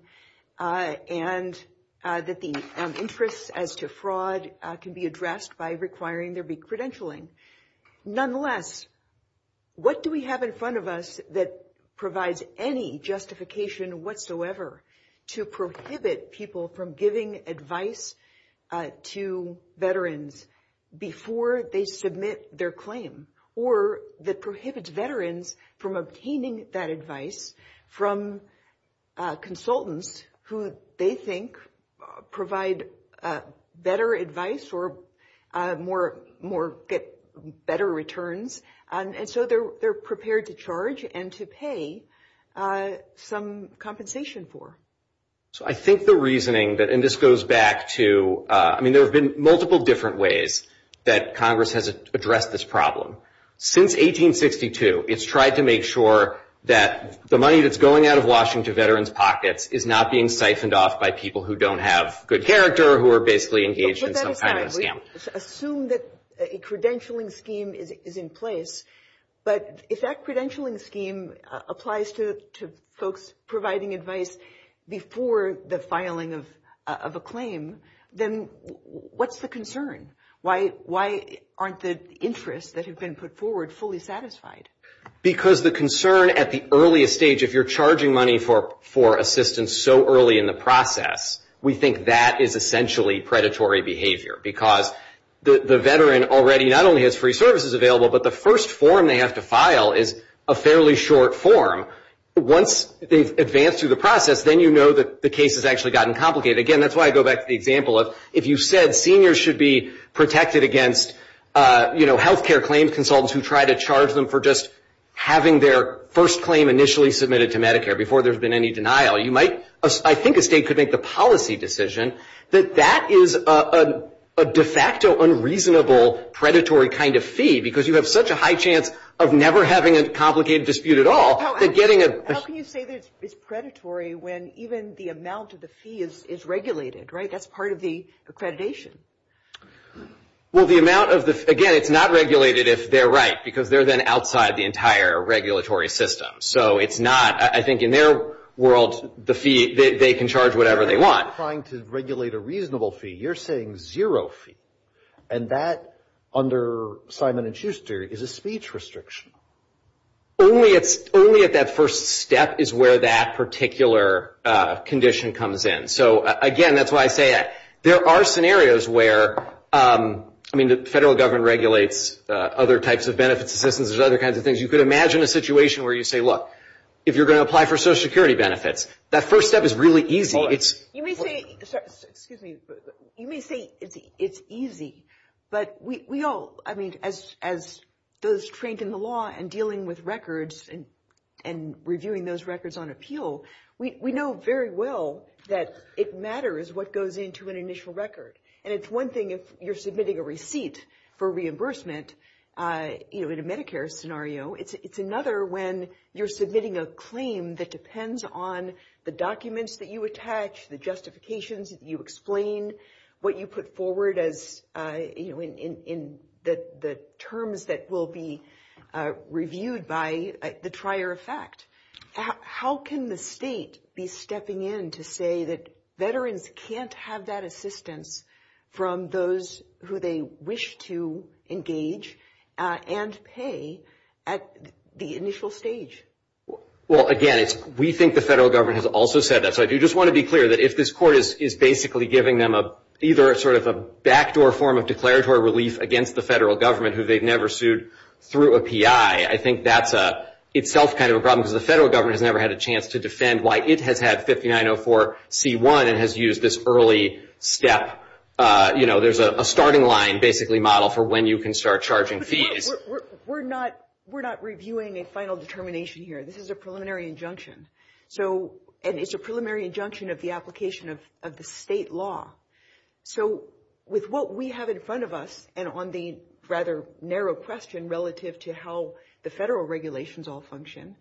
And that the interests as to fraud can be addressed by requiring there be credentialing. Nonetheless, what do we have in front of us that provides any justification? Well, we have a law that prohibits veterans from obtaining that advice from consultants who they think provide better advice or get better returns. And so they're prepared to charge and to pay some compensation for. So I think the reasoning that, and this goes back to, I mean, there have been multiple different ways that Congress has addressed this problem. Since 1862, it's tried to make sure that the money that's going out of Washington veterans' pockets is not being siphoned off by people who don't have good character, who are basically engaged in some kind of scam. Assume that a credentialing scheme is in place. But if that credentialing scheme applies to folks providing advice before the filing of a claim, then what's the concern? Why aren't the interests that have been put forward fully satisfied? Because the concern at the earliest stage, if you're charging money for assistance so early in the process, we think that is essentially predatory behavior. Because the veteran already not only has free services available, but the first form they have to file is a fairly short form. Once they've advanced through the process, then you know that the case has actually gotten complicated. Again, that's why I go back to the example of, if you said seniors should be protected against health care claims consultants who try to charge them for just having their first claim initially submitted to Medicare before there's been any denial, I think a state could make the policy decision, that that is a de facto unreasonable predatory kind of fee. Because you have such a high chance of never having a complicated dispute at all. How can you say that it's predatory when even the amount of the fee is regulated, right? That's part of the accreditation. Well, the amount of the, again, it's not regulated if they're right. Because they're then outside the entire regulatory system. So it's not, I think in their world, the fee, they can charge whatever they want. You're not trying to regulate a reasonable fee. You're saying zero fee. And that, under Simon and Schuster, is a speech restriction. Only if that first step is where that particular condition comes in. So again, that's why I say that. There are scenarios where, I mean, the federal government regulates other types of benefits assistance and other kinds of things. You could imagine a situation where you say, look, if you're going to apply for Social Security benefits, that first step is really easy. You may say, excuse me, you may say it's easy. But we all, I mean, as those trained in the law and dealing with records and reviewing those records on appeal, we know very well that it matters what goes into an initial record. And it's one thing if you're submitting a receipt for reimbursement, you know, in a Medicare scenario. It's another when you're submitting a claim that depends on the documents that you attach, the justifications that you explain, what you put forward as, you know, in the terms that will be reviewed by the trier of fact. How can the state be stepping in to say that veterans can't have that assistance from those who they wish to engage and pay at the initial stage? Well, again, we think the federal government has also said that. So I do just want to be clear that if this court is basically giving them either sort of a backdoor form of declaratory relief against the federal government who they've never sued through a PI, I think that's itself kind of a problem because the federal government has never had a chance to defend why it has had 5904c1 and has used this early step, you know, there's a starting line basically model for when you can start charging fees. We're not reviewing a final determination here. This is a preliminary injunction. So, and it's a preliminary injunction of the application of the state law. So, with what we have in front of us and on the rather narrow question relative to how the federal regulations all function,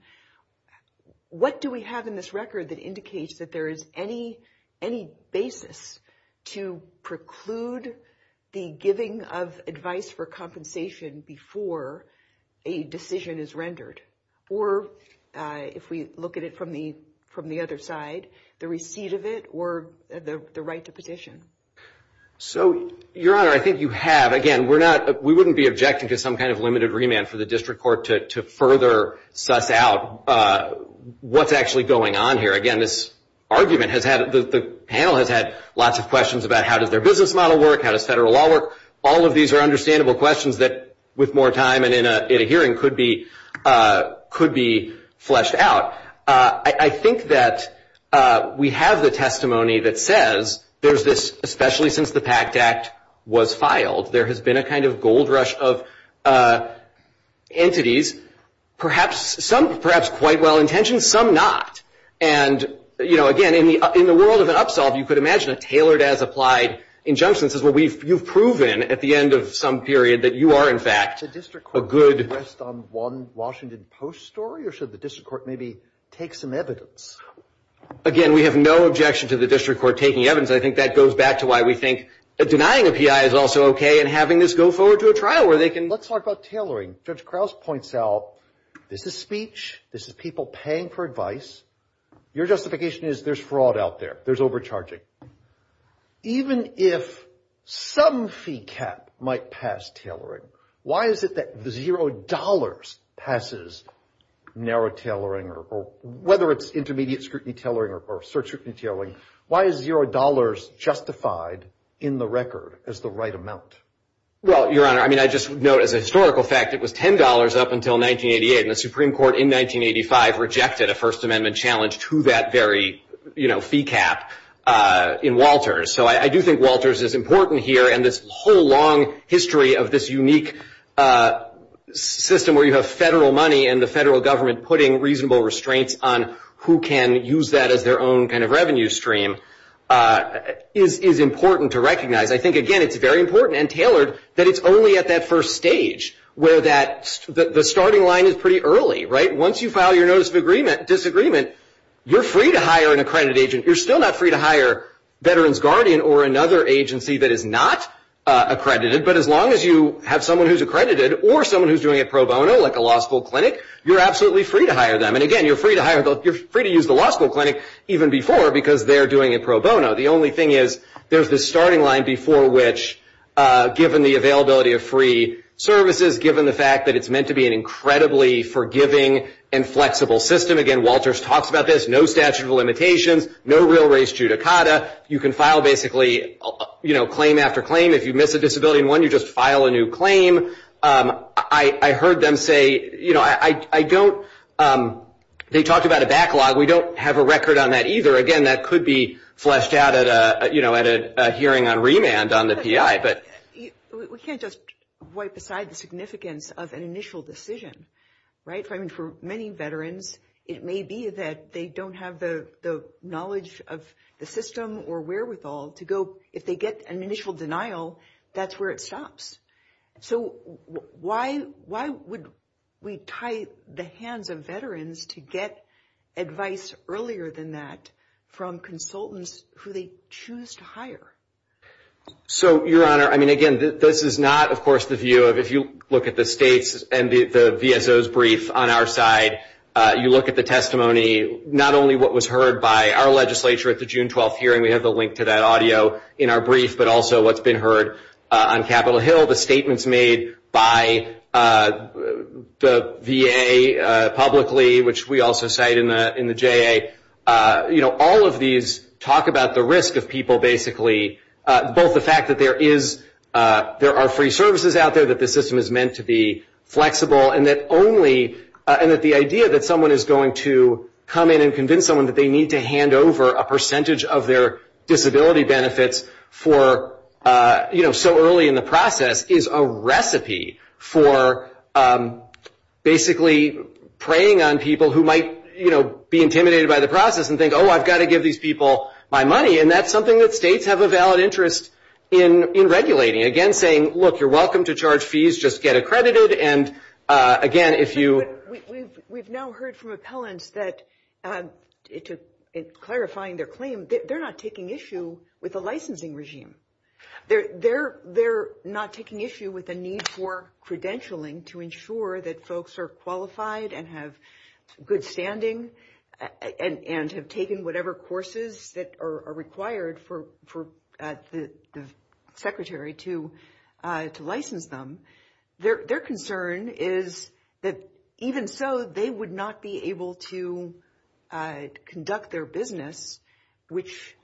what do we have in this record that indicates that there is any basis to preclude the giving of advice for compensation before a decision is rendered? Or if we look at it from the other side, the receipt of it or the right to petition? So, Your Honor, I think you have. Again, we're not, we wouldn't be objecting to some kind of limited remand for the district court to further suss out what's actually going on here. Again, this argument has had, the panel has had lots of questions about how does their business model work, how does federal law work. All of these are understandable questions that with more time and in a hearing could be, could be fleshed out. I think that we have the testimony that says there's this, especially since the PACT Act was filed, there has been a kind of gold rush of entities, perhaps, some perhaps quite well intentioned, some not. And, you know, again, in the world of an upsell, you could imagine a tailored as applied injunction says, well, we've, you've proven at the end of some period that you are in fact a good The district court rest on one Washington Post story, or should the district court maybe take some evidence? Again, we have no objection to the district court taking evidence. I think that goes back to why we think that denying a PI is also okay and having this go forward to a trial where they can, let's talk about tailoring. Judge Krause points out, this is speech, this is people paying for advice. Your justification is there's fraud out there. There's overcharging. Even if some fee cap might pass tailoring, why is it that $0 passes narrow tailoring or whether it's intermediate scrutiny tailoring or search scrutiny tailoring, why is $0 justified in the record as the right amount? Well, your honor, I mean, I just know as a historical fact, it was $10 up until 1988. And the Supreme Court in 1985 rejected a First Amendment challenge to that very, you know, fee cap in Walters. So I do think Walters is important here. And this whole long history of this unique system where you have federal money and the federal government putting reasonable restraints on who can use that as their own kind of revenue stream is important to recognize. I think, again, it's very important and tailored that it's only at that first stage where the starting line is pretty early, right? Once you file your Notice of Disagreement, you're free to hire an accredited agent. You're still not free to hire Veterans Guardian or another agency that is not accredited. But as long as you have someone who's accredited or someone who's doing it pro bono, like a law school clinic, you're absolutely free to hire them. And again, you're free to use the law school clinic even before because they're doing it pro bono. The only thing is there's this starting line before which, given the availability of free services, given the fact that it's meant to be an incredibly forgiving and flexible system, again, Walters talks about this, no statute of limitations, no real race judicata. You can file basically, you know, claim after claim. If you miss a disability in one, you just file a new claim. I heard them say, you know, I don't – they talked about a backlog. We don't have a record on that either. Again, that could be fleshed out at a, you know, at a hearing on remand on the PI. But we can't just wipe aside the significance of an initial decision, right? I mean, for many Veterans, it may be that they don't have the knowledge of the system or wherewithal to go. If they get an initial denial, that's where it stops. So, why would we tie the hands of Veterans to get advice earlier than that from consultants who they choose to hire? So, Your Honor, I mean, again, this is not, of course, the view of – if you look at the states and the VSO's brief on our side, you look at the testimony, not only what was heard by our legislature at the June 12th hearing, we have the link to that audio in our brief, but also what's been heard on Capitol Hill. The statements made by the VA publicly, which we also cite in the JA, you know, all of these talk about the risk of people basically – both the fact that there is – there are free services out there, that the system is meant to be flexible, and that only – and that the idea that someone is going to come in and convince someone that they need to hand over a percentage of their disability benefits for – you know, so early in the process is a recipe for basically preying on people who might, you know, be intimidated by the process and think, oh, I've got to give these people my money. And that's something that states have a valid interest in regulating. Again, saying, look, you're welcome to charge fees, just get accredited. And, again, if you – HENDRICKS We've now heard from appellants that, clarifying their claim, they're not taking issue with the licensing regime. They're not taking issue with the need for credentialing to ensure that folks are qualified and have good standing and have taken whatever courses that are required for the Secretary to license them. Their concern is that, even so, they would not be able to conduct their business, which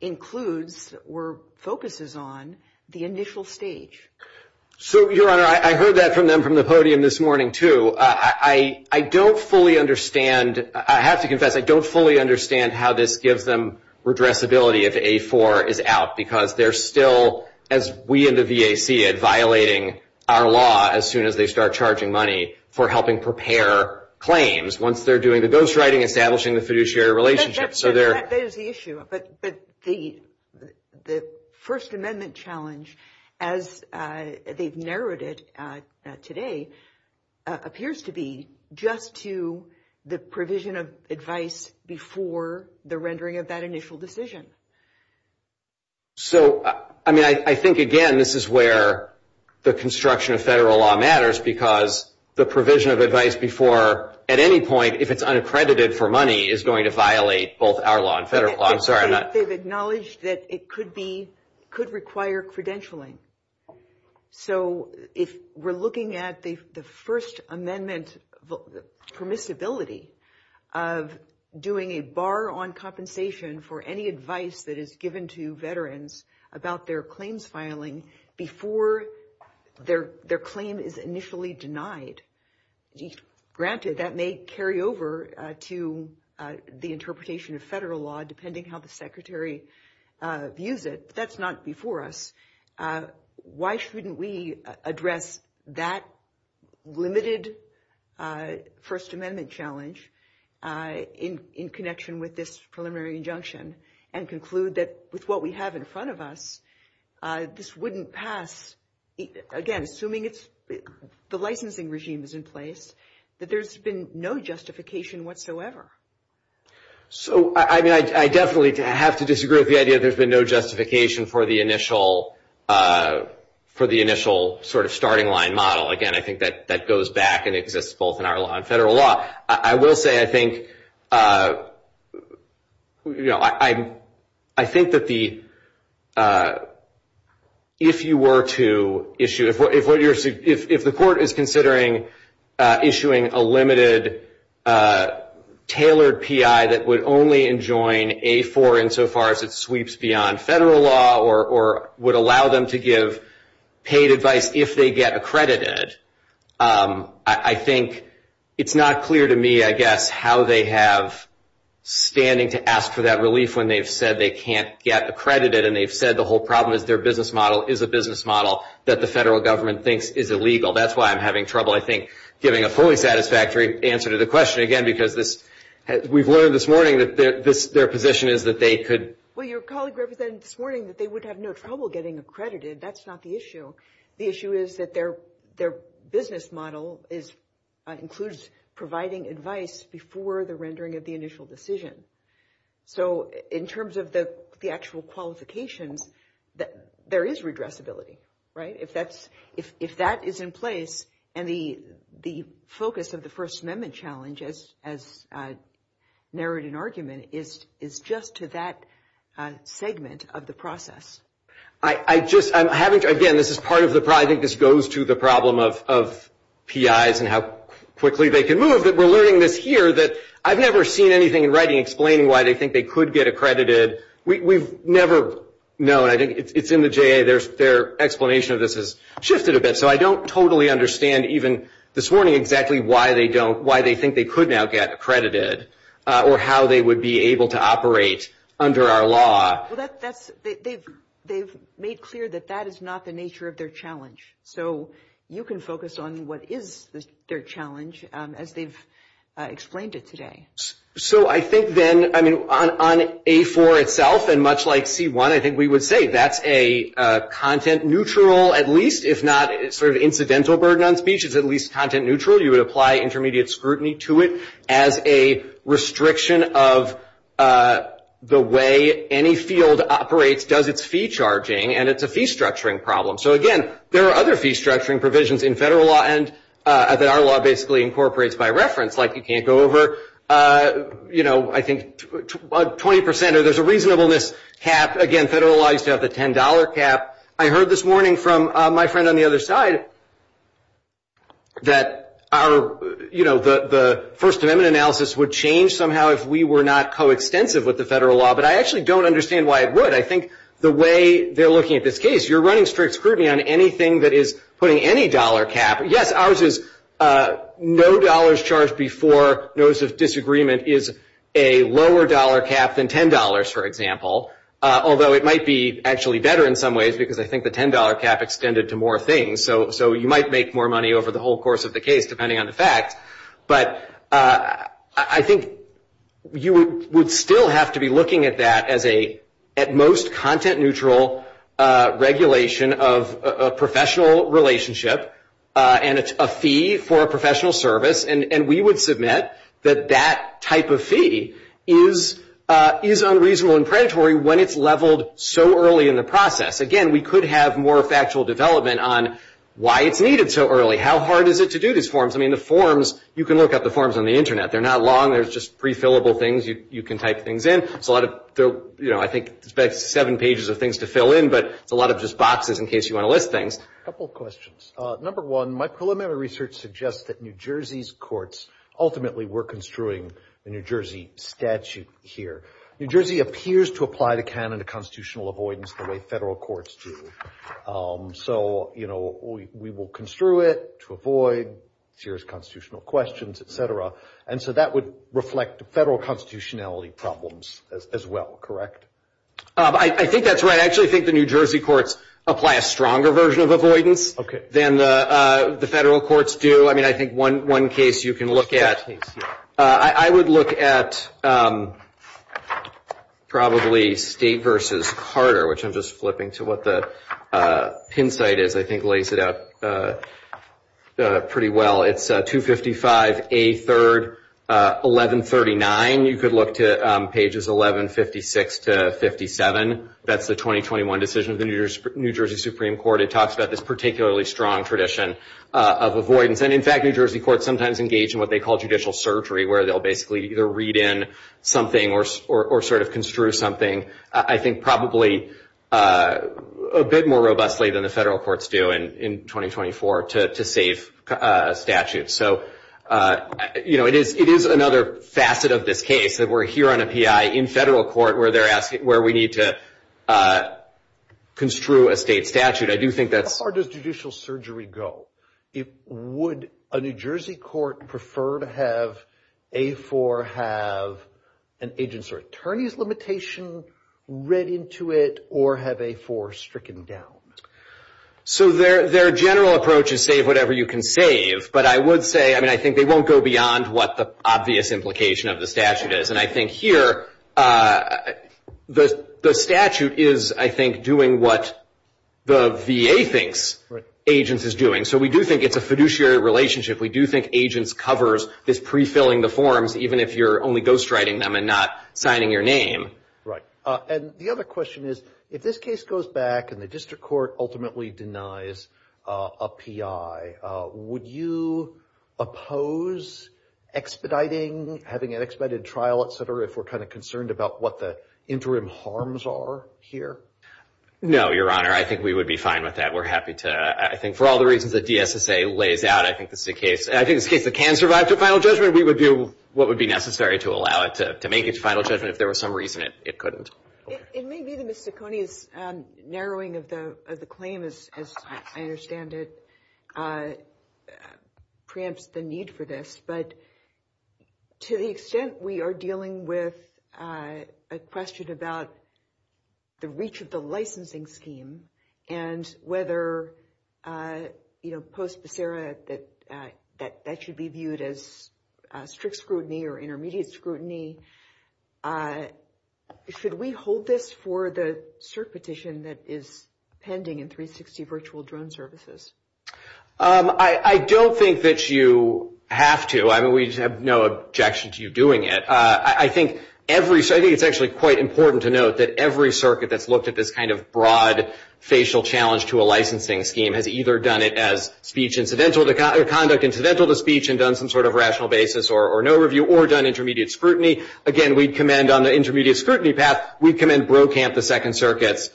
includes or focuses on the initial stage. BARTON So, Your Honor, I heard that from them from the podium this morning, too. I don't fully understand – I have to confess, I don't fully understand how to give them addressability if A4 is out, because they're still, as we in the VAC, violating our law as soon as they start charging money for helping prepare claims, once they're doing the ghost writing, establishing the fiduciary relationship. So, they're – BARTON That is the issue. But the First Amendment challenge, as they've narrowed it today, appears to be just to the provision of advice before the rendering of that initial decision. BARTON So, I mean, I think, again, this is where the construction of federal law matters, because the provision of advice before, at any point, if it's unaccredited for money, is going to violate both our law and federal law. I'm sorry, I'm not – BARTON They've acknowledged that it could be – could require credentialing. So, if we're looking at the First Amendment permissibility of doing a bar on compensation for any advice that is given to veterans about their claims filing before their claim is initially denied – granted, that may carry over to the interpretation of federal law, depending on how the Secretary views it, but that's not before us – why shouldn't we address that limited First Amendment challenge in connection with this preliminary injunction and conclude that, with what we have in front of us, this wouldn't pass – again, assuming it's – the licensing regime is in place, that there's been no justification whatsoever. BARTON So, I mean, I definitely have to disagree with the idea that there's been no justification for the initial sort of starting line model. Again, I think that goes back and exists both in our law and federal law. I will say, I think, you know, I think that the – if you were to issue – if the court is considering issuing a limited, tailored PI that would only enjoin A4 insofar as it sweeps beyond federal law or would allow them to give paid advice if they get accredited, I think it's not clear to me, I guess, how they have standing to ask for that relief when they've said they can't get accredited and they've said the whole problem is their business model is a business model that the federal government thinks is illegal. That's why I'm having trouble, I think, giving a fully satisfactory answer to the question, again, because this – we've learned this morning that this – their position is that they could – BARTON Well, your colleague represented this morning that they would have no trouble getting accredited. That's not the issue. The issue is that their business model is – includes providing advice before the rendering of the initial decision. So, in terms of the actual qualification, there is redressability, right? If that is in place and the focus of the First Amendment challenge, as narrowed in argument, is just to that segment of the process. BARTON I just – I'm having to – again, this is part of the – I think this goes to the problem of PIs and how quickly they can move, but we're learning this here that I've never seen anything in writing explaining why they think they could get accredited. We've never known. It's in the JA. Their explanation of this has shifted a bit, so I don't totally understand even this morning exactly why they don't – why they think they could now get accredited or how they would be able to operate under our law. BARTON Well, that's – they've made clear that that is not the nature of their challenge. So, you can focus on what is their challenge as they've explained it today. So, I think then, I mean, on A4 itself and much like C1, I think we would say that's a content-neutral, at least, if not sort of incidental burden on speech, it's at least content-neutral. You would apply intermediate scrutiny to it as a restriction of the way any field operates, does its fee charging, and it's a fee-structuring problem. So, again, there are other fee-structuring provisions in federal law that our law basically incorporates by reference, like you can't go over, you know, I think 20% or there's a reasonableness cap. Again, federal law used to have the $10 cap. I heard this morning from my friend on the other side that our, you know, the first amendment analysis would change somehow if we were not coextensive with the federal law, but I actually don't understand why it would. I think the way they're looking at this case, you're running strict scrutiny on anything that is putting any dollar cap. Yes, ours is no dollars charged before notice of disagreement is a lower dollar cap than $10, for example, although it might be actually better in some ways, because I think the $10 cap extended to more things, so you might make more money over the whole course of the case, depending on the facts. But I think you would still have to be looking at that as a, at most, content-neutral regulation of a professional relationship and a fee for a professional service, and we would submit that that type of fee is unreasonable and predatory when it's leveled so early in the process. Again, we could have more factual development on why it's needed so early. How hard is it to do these forms? I mean, the forms, you can look at the forms on the internet. They're not long. They're just prefillable things you can type things in. It's a lot of, you know, I think it's about seven pages of things to fill in, but it's a lot of just boxes in case you want to list things. A couple questions. Number one, my preliminary research suggests that New Jersey's courts ultimately were construing the New Jersey statute here. New Jersey appears to apply the canon of constitutional avoidance the way federal courts do. So, you know, we will construe it to avoid serious constitutional questions, et cetera, and so that would reflect the federal constitutionality problems as well, correct? I think that's right. I actually think the New Jersey courts apply a stronger version of avoidance than the federal courts do. I mean, I think one case you can look at, I would look at probably state versus Carter, which I'm just flipping to what the pin site is. I think it lays it out pretty well. It's 255A3, 1139. You could look to pages 1156 to 57. That's the 2021 decision of the New Jersey Supreme Court. It talks about this particularly strong tradition of avoidance, and in fact, New Jersey courts sometimes engage in what they call judicial surgery, where they'll basically either read in something or sort of construe something, I think probably a bit more robustly than the federal courts do in 2024 to save statutes. So, you know, it is another facet of this case that we're here on a PI in federal court where we need to construe a state statute. I do think that's- How far does judicial surgery go? Would a New Jersey court prefer to have A4 have an agent's or attorney's limitation read into it or have A4 stricken down? So their general approach is save whatever you can save, but I would say, I mean, I think they won't go beyond what the obvious implication of the statute is. And I think here, the statute is, I think, doing what the VA thinks agents is doing. So we do think it's a fiduciary relationship. We do think agents covers is prefilling the forms, even if you're only ghostwriting them and not signing your name. Right. And the other question is, if this case goes back and the district court ultimately denies a PI, would you oppose expediting, having an expedited trial, et cetera, if we're kind of concerned about what the interim harms are here? No, Your Honor. I think we would be fine with that. We're happy to, I think for all the reasons that DSSA lays out, I think this is the case. And I think this case can survive the final judgment. We would do what would be necessary to allow it to make its final judgment. If there was some reason, it couldn't. It may be the miscellaneous narrowing of the claim, as I understand it, preempts the need for this. But to the extent we are dealing with a question about the reach of the licensing scheme and whether, you know, post-Bisera, that should be viewed as strict scrutiny or intermediate scrutiny, should we hold this for the cert petition that is pending in 360 Virtual Drone Services? I don't think that you have to. I mean, we have no objection to you doing it. I think every, I think it's actually quite important to note that every circuit that's looked at this kind of broad facial challenge to a licensing scheme has either done it as speech incidental, conduct incidental to speech and done some sort of rational basis or no scrutiny. Again, we commend on the intermediate scrutiny path, we commend Brokamp, the Second Circuit's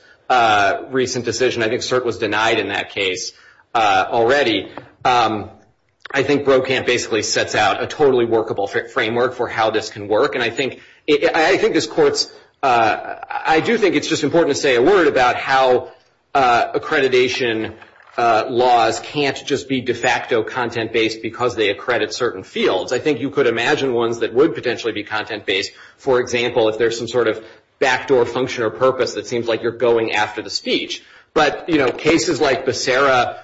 recent decision. I think cert was denied in that case already. I think Brokamp basically sets out a totally workable framework for how this can work. And I think this court's, I do think it's just important to say a word about how accreditation laws can't just be de facto content-based because they accredit certain fields. I think you could imagine ones that would potentially be content-based, for example, if there's some sort of backdoor function or purpose that seems like you're going after the speech. But cases like Becerra,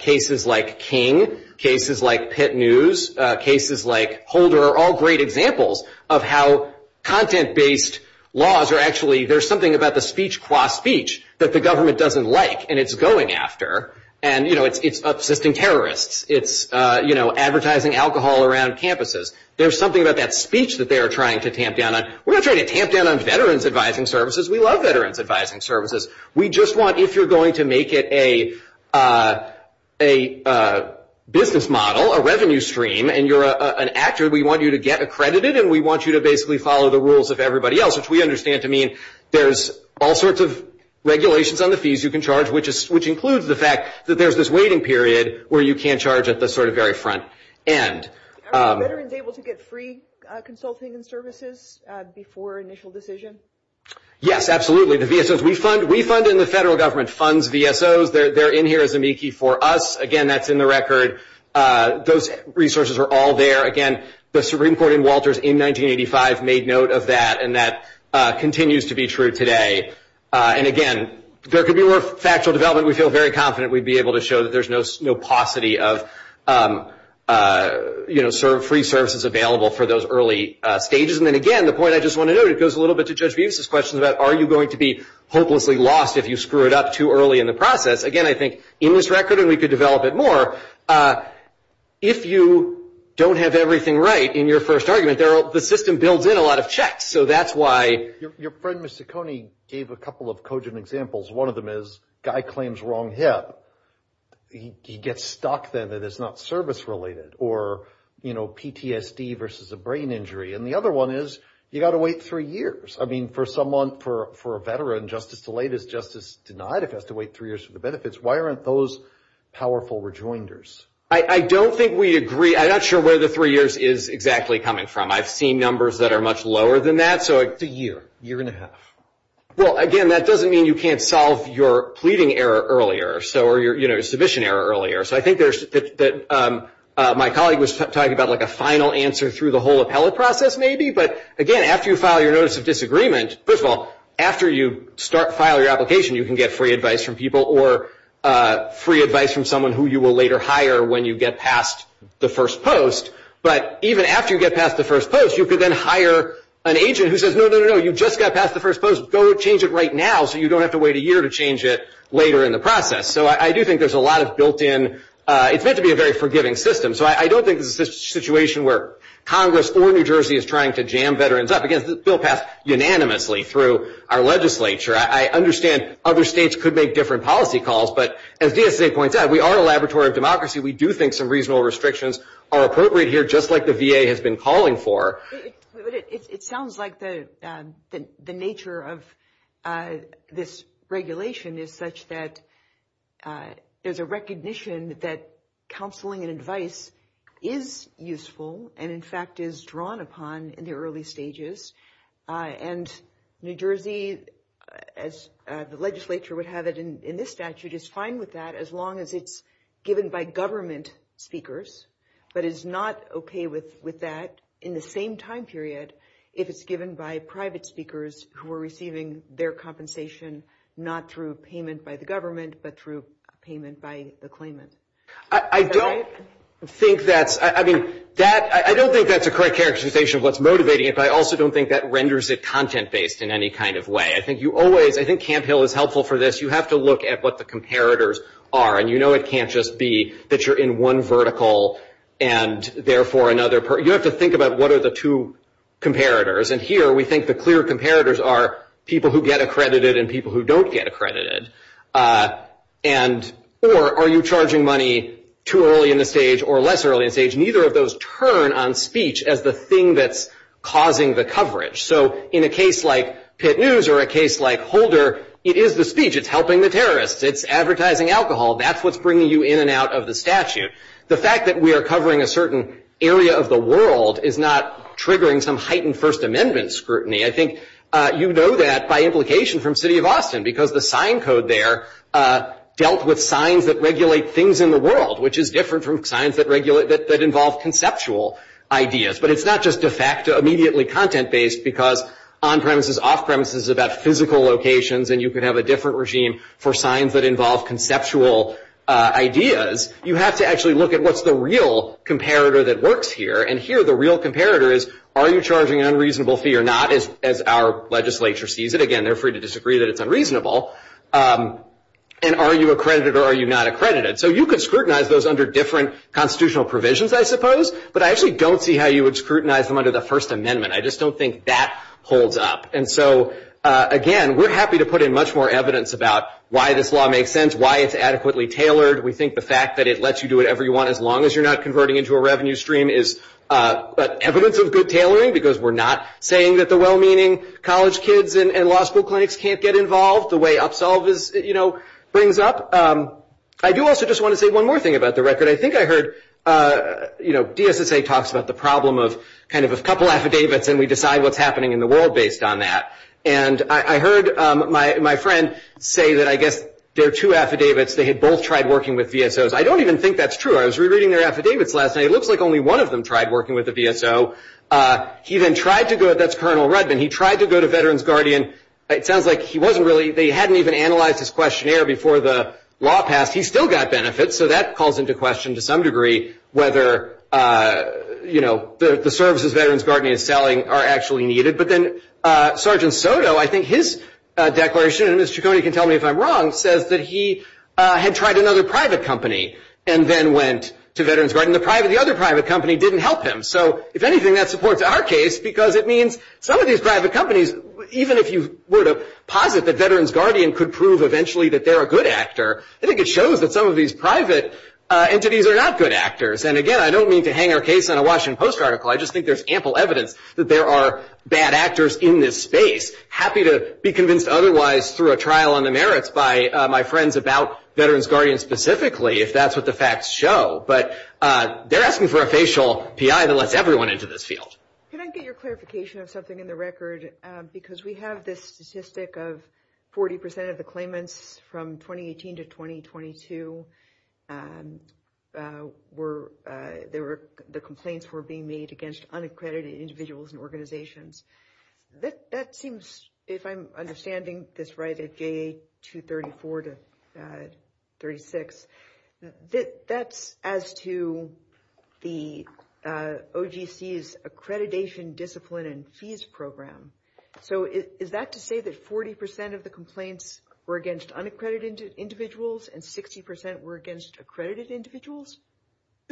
cases like King, cases like Pitt News, cases like Holder are all great examples of how content-based laws are actually, there's something about the speech qua speech that the government doesn't like and it's going after. And it's uplifting terrorists. It's advertising alcohol around campuses. There's something about that speech that they're trying to tamp down on. We're not trying to tamp down on veterans advising services. We love veterans advising services. We just want, if you're going to make it a business model, a revenue stream, and you're an actor, we want you to get accredited and we want you to basically follow the rules of everybody else, which we understand to mean there's all sorts of regulations on the back that there's this waiting period where you can't charge at the sort of very front end. Are veterans able to get free consulting and services before initial decision? Yes, absolutely. The VSOs, we fund, we fund and the federal government funds VSOs. They're in here as amici for us. Again, that's in the record. Those resources are all there. Again, the Supreme Court in Walters in 1985 made note of that and that continues to be true today. Again, there could be more factual development. We feel very confident we'd be able to show that there's no paucity of free services available for those early stages. Again, the point I just want to note, it goes a little bit to Judge Beavis' question about are you going to be hopelessly lost if you screw it up too early in the process? Again, I think in this record, and we could develop it more, if you don't have everything right in your first argument, the system builds in a lot of checks. That's why- Your friend, Mr. Coney, gave a couple of cogent examples. One of them is guy claims wrong hip. He gets stuck then and it's not service related or PTSD versus a brain injury. The other one is you got to wait three years. I mean, for someone, for a veteran, justice delayed is justice denied if he has to wait three years for the benefits. Why aren't those powerful rejoinders? I don't think we agree. I'm not sure where the three years is exactly coming from. I've seen numbers that are much lower than that. It's a year, year and a half. Well, again, that doesn't mean you can't solve your pleading error earlier or your submission error earlier. I think my colleague was talking about a final answer through the whole appellate process maybe, but again, after you file your Notice of Disagreement, first of all, after you file your application, you can get free advice from people or free advice from someone who you will later hire when you get past the first post. But even after you get past the first post, you could then hire an agent who says, no, no, no, you just got past the first post, go change it right now so you don't have to wait a year to change it later in the process. So I do think there's a lot of built in, it's meant to be a very forgiving system. So I don't think it's a situation where Congress or New Jersey is trying to jam veterans up. Again, this bill passed unanimously through our legislature. I understand other states could make different policy calls, but as DSA points out, we are a laboratory of democracy. We do think some reasonable restrictions are appropriate here just like the VA has been calling for. But it sounds like the nature of this regulation is such that there's a recognition that counseling and advice is useful and in fact is drawn upon in the early stages. And New Jersey, as the legislature would have it in this statute, is fine with that as long as it's given by government speakers. But it's not okay with that in the same time period if it's given by private speakers who are receiving their compensation not through payment by the government, but through payment by the claimant. I don't think that's a correct characterization of what's motivating it, but I also don't think that renders it content based in any kind of way. I think you always, I think Camp Hill is helpful for this. You have to look at what the comparators are. And you know it can't just be that you're in one vertical and therefore another. You have to think about what are the two comparators. And here we think the clear comparators are people who get accredited and people who don't get accredited. And or are you charging money too early in the stage or less early in the stage? Neither of those turn on speech as the thing that's causing the coverage. So in a case like Pitt News or a case like Holder, it is the speech. It's helping the terrorists. It's advertising alcohol. That's what's bringing you in and out of the statute. The fact that we are covering a certain area of the world is not triggering some heightened First Amendment scrutiny. I think you know that by implication from City of Austin because the sign code there dealt with signs that regulate things in the world, which is different from signs that involve conceptual ideas. But it's not just a fact immediately content-based because on-premises, off-premises is about physical locations. And you could have a different regime for signs that involve conceptual ideas. You have to actually look at what's the real comparator that works here. And here the real comparator is are you charging an unreasonable fee or not as our legislature sees it. Again, they're free to disagree that it's unreasonable. And are you accredited or are you not accredited? So you could scrutinize those under different constitutional provisions, I suppose. But I actually don't see how you would scrutinize them under the First Amendment. I just don't think that holds up. And so again, we're happy to put in much more evidence about why this law makes sense, why it's adequately tailored. We think the fact that it lets you do whatever you want as long as you're not converting into a revenue stream is evidence of good tailoring because we're not saying that the well-meaning college kids and law school clinics can't get involved the way Upsolve brings up. I do also just want to say one more thing about the record. I think I heard, you know, DSSA talks about the problem of kind of a couple affidavits and we decide what's happening in the world based on that. And I heard my friend say that I guess there are two affidavits. They had both tried working with VSOs. I don't even think that's true. I was rereading their affidavits last night. It looks like only one of them tried working with a VSO. He then tried to go, that's Colonel Rudman, he tried to go to Veterans Guardian. It sounds like he wasn't really, they hadn't even analyzed his questionnaire before the law passed. He still got benefits. So that calls into question to some degree whether, you know, the services Veterans Guardian is selling are actually needed. But then Sergeant Soto, I think his declaration, and Mr. Ciccone can tell me if I'm wrong, says that he had tried another private company and then went to Veterans Guardian. The other private company didn't help him. So if anything, that supports our case because it means some of these private companies, even if you were to posit that Veterans Guardian could prove eventually that they're a good actor, I think it shows that some of these private entities are not good actors. And again, I don't mean to hang our case on a Washington Post article. I just think there's ample evidence that there are bad actors in this space. Happy to be convinced otherwise through a trial on the merits by my friends about Veterans Guardian specifically if that's what the facts show. But they're asking for a facial PI that lets everyone into this field. Can I get your clarification of something in the record? Because we have this statistic of 40% of the claimants from 2018 to 2022 the complaints were being made against unaccredited individuals and organizations. That seems, if I'm understanding this right, at J234 to 36, that's as to the OGC's Accreditation Discipline and Fees Program. So is that to say that 40% of the complaints were against unaccredited individuals and 60% were against accredited individuals?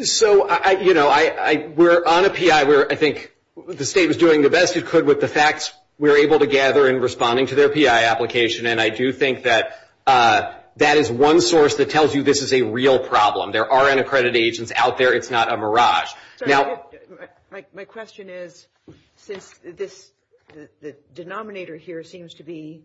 So we're on a PI where I think the state was doing the best it could with the facts we're able to gather in responding to their PI application. And I do think that that is one source that tells you this is a real problem. There are unaccredited agents out there. It's not a mirage. So my question is, since this denominator here seems to be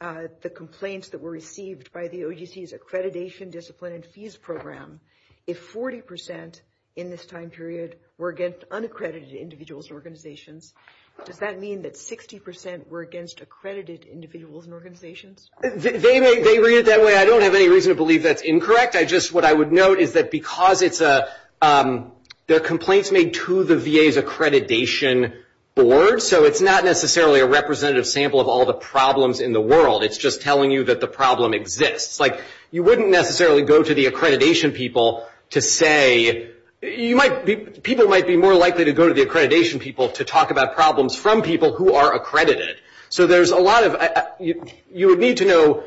the complaints that were received by the OGC's Accreditation Discipline and Fees Program, if 40% in this time period were against unaccredited individuals and organizations, does that mean that 60% were against accredited individuals and organizations? They read it that way. I don't have any reason to believe that's incorrect. What I would note is that because the complaints made to the VA's accreditation board, so it's not necessarily a representative sample of all the problems in the world. It's just telling you that the problem exists. You wouldn't necessarily go to the accreditation people to say – people might be more likely to go to the accreditation people to talk about problems from people who are accredited. So there's a lot of – you would need to know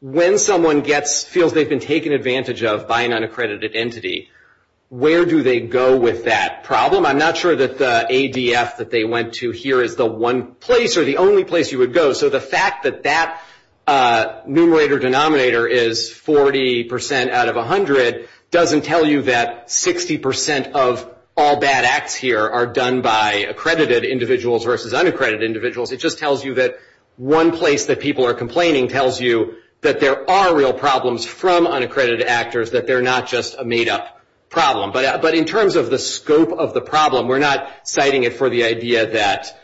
when someone feels they've been taken advantage of by an unaccredited entity, where do they go with that problem? I'm not sure that the ADF that they went to here is the one place or the only place you would go. So the fact that that numerator denominator is 40% out of 100 doesn't tell you that 60% of all bad acts here are done by accredited individuals versus unaccredited individuals. It just tells you that one place that people are complaining tells you that there are real problems from unaccredited actors, that they're not just a made-up problem. But in terms of the scope of the problem, we're not citing it for the idea that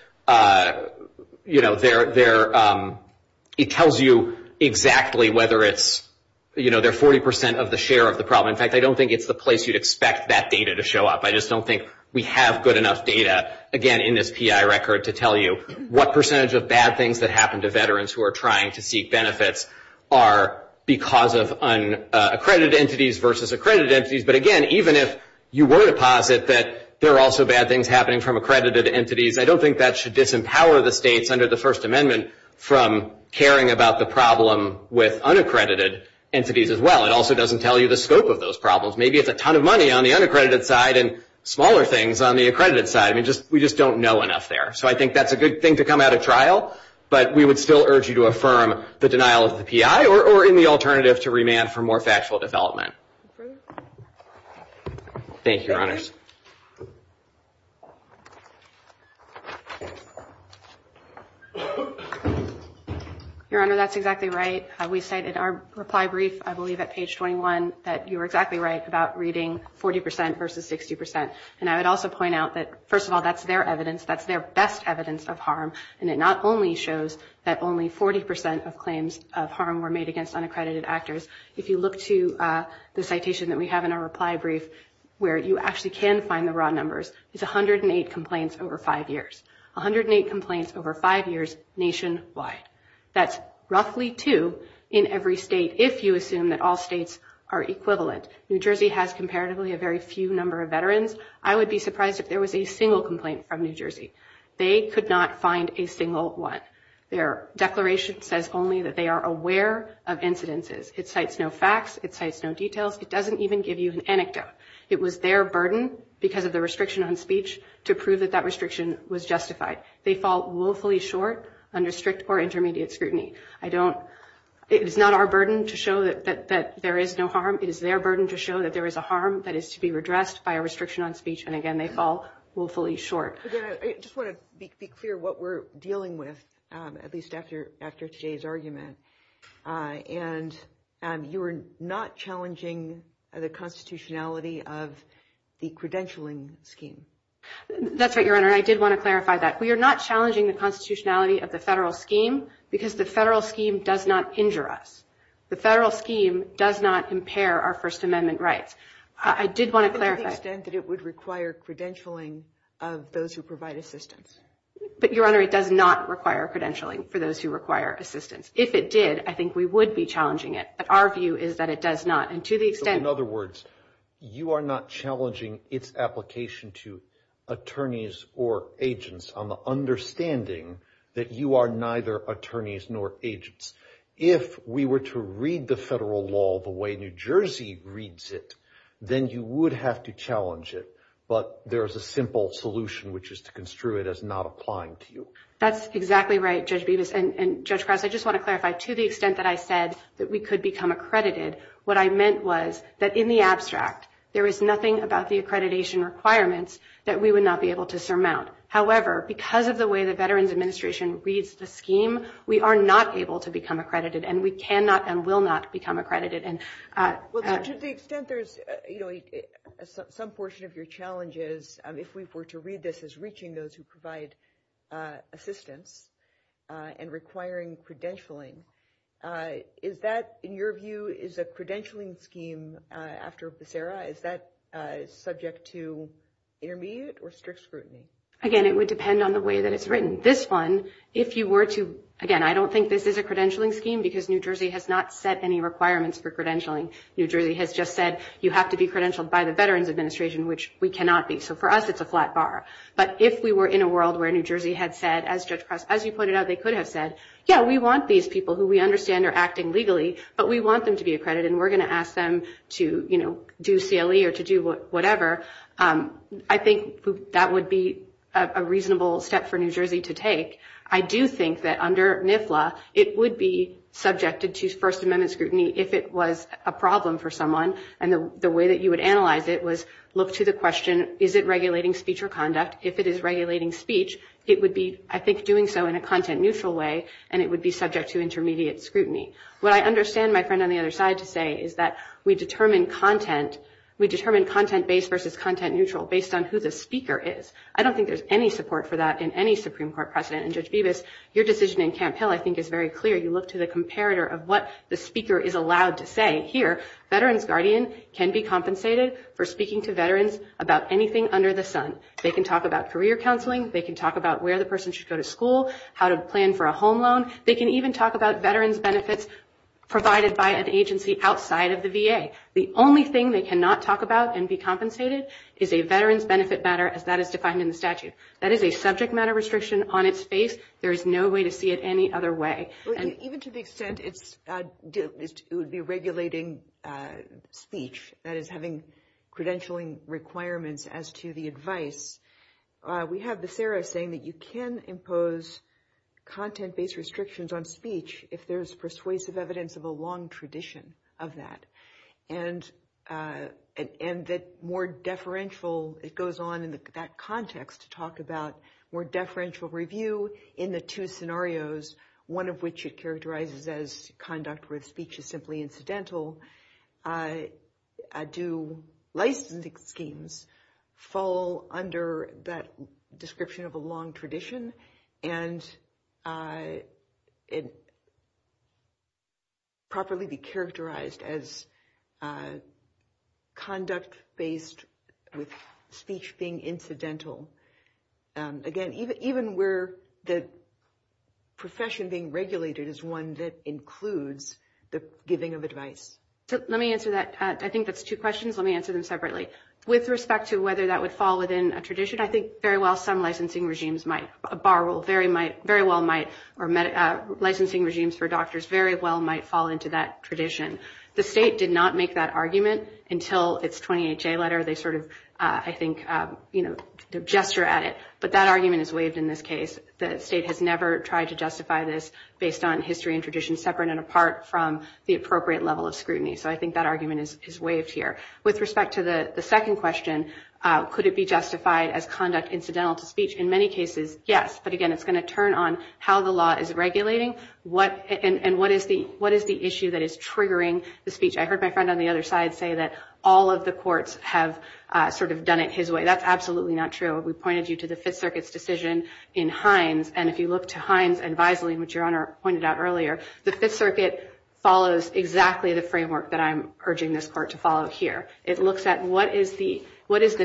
it tells you exactly whether it's – they're 40% of the share of the problem. I don't think it's the place you'd expect that data to show up. I just don't think we have good enough data, again, in this PI record to tell you what percentage of bad things that happen to veterans who are trying to seek benefits are because of accredited entities versus accredited entities. But again, even if you were to posit that there are also bad things happening from accredited entities, I don't think that should disempower the states under the First Amendment from caring about the problem with unaccredited entities as well. It also doesn't tell you the scope of those problems. Maybe it's a ton of money on the unaccredited side and smaller things on the accredited side. I mean, we just don't know enough there. So I think that's a good thing to come out of trial, but we would still urge you to affirm the denial of the PI or in the alternative to remand for more factual development. Thank you, Your Honors. Your Honor, that's exactly right. We've cited our reply brief. I believe at page 21 that you were exactly right about reading 40 percent versus 60 percent. And I would also point out that, first of all, that's their evidence. That's their best evidence of harm. And it not only shows that only 40 percent of claims of harm were made against unaccredited actors. If you look to the citation that we have in our reply brief, where you actually can find the raw numbers, it's 108 complaints over five years. 108 complaints over five years nationwide. That's roughly two in every state, if you assume that all states are equivalent. New Jersey has comparatively a very few number of veterans. I would be surprised if there was a single complaint from New Jersey. They could not find a single one. Their declaration says only that they are aware of incidences. It cites no facts. It cites no details. It doesn't even give you an anecdote. It was their burden because of the restriction on speech to prove that that restriction was justified. They fall woefully short under strict or intermediate scrutiny. I don't – it is not our burden to show that there is no harm. It is their burden to show that there is a harm that is to be redressed by a restriction on speech. And, again, they fall woefully short. MS. GOTTLIEB I just want to be clear what we're dealing with, at least after today's argument. And you are not challenging the constitutionality of the credentialing scheme. MS. GOTTLIEB We are not challenging the constitutionality of the federal scheme because the federal scheme does not injure us. The federal scheme does not impair our First Amendment rights. I did want to clarify. GOTTLIEB To the extent that it would require credentialing of those who provide assistance. GOTTLIEB But, Your Honor, it does not require credentialing for those who require assistance. If it did, I think we would be challenging it. But our view is that it does not. And to the extent – STEINFELD In other words, you are not challenging its application to attorneys or agents on the understanding that you are neither attorneys nor agents. If we were to read the federal law the way New Jersey reads it, then you would have to challenge it. But there is a simple solution, which is to construe it as not applying to you. MS. GOTTLIEB That's exactly right, Judge Bevis. And, Judge Price, I just want to clarify. To the extent that I said that we could become accredited, what I meant was that, in the There is nothing about the accreditation requirements that we would not be able to However, because of the way the Veterans Administration reads the scheme, we are not able to become accredited. And we cannot and will not become accredited. And – GOTTLIEB Well, to the extent there's, you know, some portion of your challenge is, if we were to read this as reaching those who provide assistance and requiring credentialing, is that, in your view, is the credentialing scheme after Becerra, is that subject to intermediate or strict scrutiny? MS. GOTTLIEB Again, it would depend on the way that it's written. This one, if you were to – again, I don't think this is a credentialing scheme because New Jersey has not set any requirements for credentialing. New Jersey has just said you have to be credentialed by the Veterans Administration, which we cannot be. So, for us, it's a flat bar. But if we were in a world where New Jersey had said, as Judge Price – as you pointed out, they could have said, yeah, we want these people who we understand are acting legally, but we want them to be accredited. We're going to ask them to, you know, do CLE or to do whatever, I think that would be a reasonable step for New Jersey to take. I do think that under NIFLA, it would be subjected to First Amendment scrutiny if it was a problem for someone. And the way that you would analyze it was look to the question, is it regulating speech or conduct? If it is regulating speech, it would be, I think, doing so in a content-neutral way, and it would be subject to intermediate scrutiny. What I understand my friend on the other side to say is that we determine content – we determine content-based versus content-neutral based on who the speaker is. I don't think there's any support for that in any Supreme Court precedent. And, Judge Bevis, your decision in Camp Hill, I think, is very clear. You look to the comparator of what the speaker is allowed to say. Here, Veterans Guardian can be compensated for speaking to veterans about anything under the sun. They can talk about career counseling. They can talk about where the person should go to school, how to plan for a home loan. They can even talk about veterans' benefits provided by an agency outside of the VA. The only thing they cannot talk about and be compensated is a veterans' benefit matter as that is defined in the statute. That is a subject matter restriction on its face. There is no way to see it any other way. And even to the extent it's – it would be regulating speech, that is, having credentialing requirements as to the advice, we have the FARA saying that you can impose content-based restrictions on speech if there is persuasive evidence of a long tradition of that and that more deferential – it goes on in that context to talk about more deferential review in the two scenarios, one of which it characterizes as conduct where speech is simply incidental. So do licensing schemes fall under that description of a long tradition and properly be characterized as conduct-based with speech being incidental, again, even where the profession being regulated is one that includes the giving of advice? Let me answer that. I think that's two questions. Let me answer them separately. With respect to whether that would fall within a tradition, I think very well some licensing regimes might – a bar will very well might or licensing regimes for doctors very well might fall into that tradition. The state did not make that argument until its 20HA letter. They sort of, I think, you know, their gesture at it. But that argument is waived in this case. The state has never tried to justify this based on history and tradition separate and apart from the appropriate level of scrutiny. So I think that argument is waived here. With respect to the second question, could it be justified as conduct incidental to speech? In many cases, yes. But again, it's going to turn on how the law is regulating and what is the issue that is triggering the speech. I heard my friend on the other side say that all of the courts have sort of done it his way. That's absolutely not true. We pointed you to the Fifth Circuit's decision in Hines. And if you look to Hines and Visely, which Your Honor pointed out earlier, the Fifth Circuit follows exactly the framework that I'm urging this court to follow here. It looks at what is the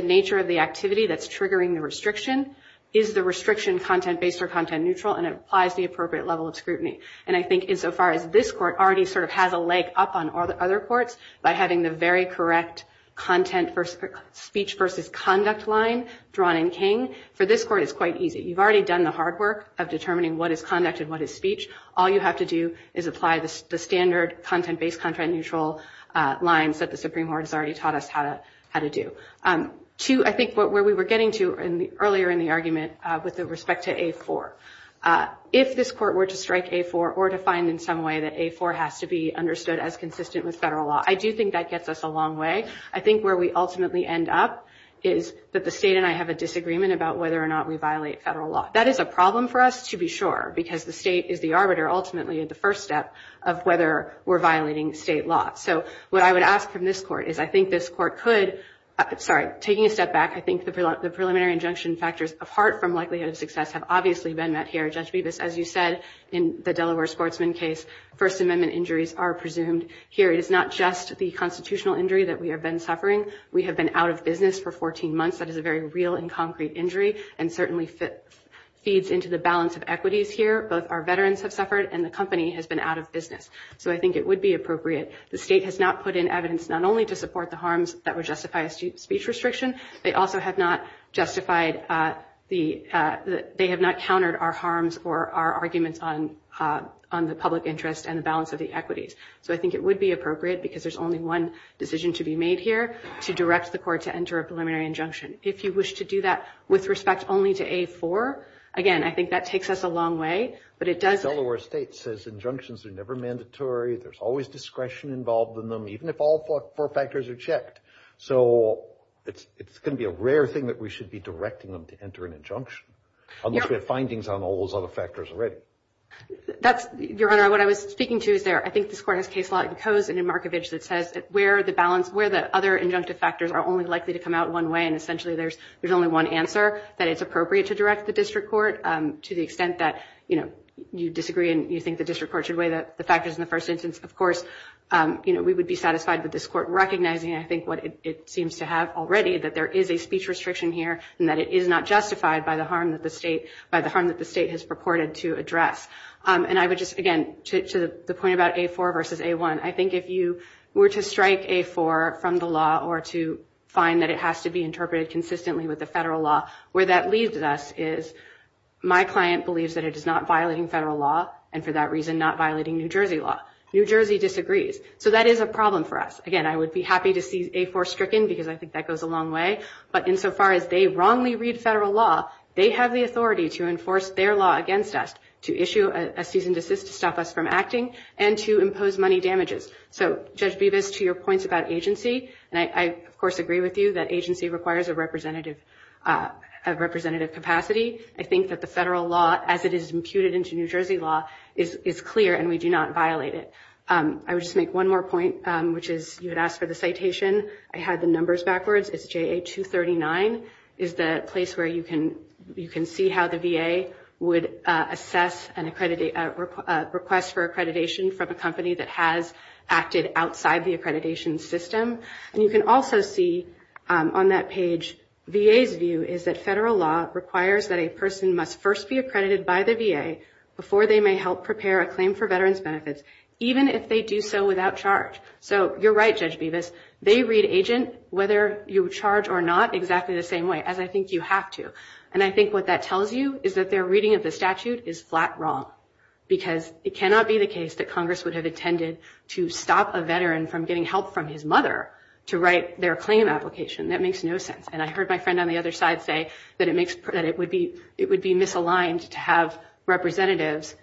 nature of the activity that's triggering the restriction, is the restriction content-based or content-neutral, and applies the appropriate level of scrutiny. And I think insofar as this court already sort of has a leg up on other courts by having the very correct speech versus conduct line drawn in King, for this court it's quite easy. You've already done the hard work of determining what is conduct and what is speech. All you have to do is apply the standard content-based, content-neutral lines that the Supreme Court has already taught us how to do. Two, I think where we were getting to earlier in the argument with respect to A4, if this court were to strike A4 or to find in some way that A4 has to be understood as consistent with federal law, I do think that gets us a long way. I think where we ultimately end up is that the state and I have a disagreement about whether or not we violate federal law. That is a problem for us, to be sure, because the state is the arbiter ultimately at the first step of whether we're violating state law. So what I would ask from this court is I think this court could, sorry, taking a step back, I think the preliminary injunction factors apart from likelihood of success have obviously been met here. Judge Bevis, as you said, in the Delaware Sportsman case, First Amendment injuries are presumed here. It is not just the constitutional injury that we have been suffering. We have been out of business for 14 months. That is a very real and concrete injury and certainly feeds into the balance of equities here. Both our veterans have suffered and the company has been out of business. So I think it would be appropriate. The state has not put in evidence not only to support the harms that would justify a speech restriction. They also have not justified the – they have not countered our harms or our arguments on the public interest and the balance of the equities. So I think it would be appropriate because there's only one decision to be made here to direct the court to enter a preliminary injunction. If you wish to do that with respect only to A4, again, I think that takes us a long way, but it does – The Delaware state says injunctions are never mandatory. There's always discretion involved in them, even if all four factors are checked. So it's going to be a rare thing that we should be directing them to enter an injunction, unless we have findings on all those other factors already. That's – Your Honor, what I was speaking to is there. I think this court has case law in Coase and in Markovich that says that where the balance – where the other injunctive factors are only likely to come out one way, and essentially there's only one answer, that it's appropriate to direct the district court to the extent that, you know, you disagree and you think the district court should weigh the factors in the first instance. Of course, you know, we would be satisfied with this court recognizing, I think, what it seems to have already, that there is a speech restriction here and that it is not justified by the harm that the state – by the harm that the state has purported to address. And I would just – again, to the point about A4 versus A1, I think if you were to strike A4 from the law or to find that it has to be interpreted consistently with the federal law, where that leaves us is my client believes that it is not violating federal law and, for that reason, not violating New Jersey law. New Jersey disagrees. So that is a problem for us. Again, I would be happy to see A4 stricken because I think that goes a long way. But insofar as they wrongly read federal law, they have the authority to enforce their law against us, to issue a cease and desist to stop us from acting, and to impose money damages. So just do this to your points about agency. And I, of course, agree with you that agency requires a representative – a representative capacity. I think that the federal law, as it is imputed into New Jersey law, is clear and we do not violate it. I would just make one more point, which is you had asked for the citation. I had the numbers backwards. It is JA239 is the place where you can see how the VA would assess a request for accreditation from a company that has acted outside the accreditation system. And you can also see on that page VA's view is that federal law requires that a person must first be accredited by the VA before they may help prepare a claim for veterans benefits, even if they do so without charge. So you are right, Judge Bevis. They read agent, whether you charge or not, exactly the same way, as I think you have to. And I think what that tells you is that their reading of the statute is flat wrong, because it cannot be the case that Congress would have intended to stop a veteran from getting help from his mother to write their claim application. That makes no sense. And I heard my friend on the other side say that it makes – that it would be – it would be misaligned to have representatives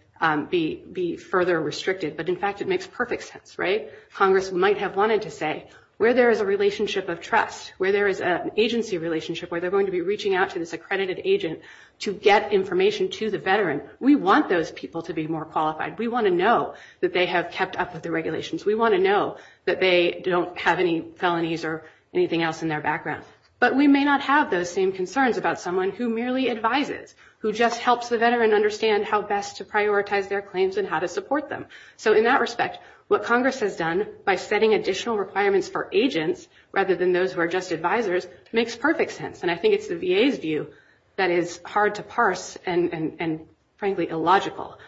be further restricted. But, in fact, it makes perfect sense, right? Congress might have wanted to say, where there is a relationship of trust, where there is an agency relationship, where they're going to be reaching out to this accredited agent to get information to the veteran, we want those people to be more qualified. We want to know that they have kept up with the regulations. We want to know that they don't have any felonies or anything else in their background. But we may not have those same concerns about someone who merely advises, who just helps the veteran understand how best to prioritize their claims and how to support them. So, in that respect, what Congress has done by setting additional requirements for agents rather than those who are just advisors makes perfect sense. And I think it's the VA's view that is hard to parse and, frankly, illogical.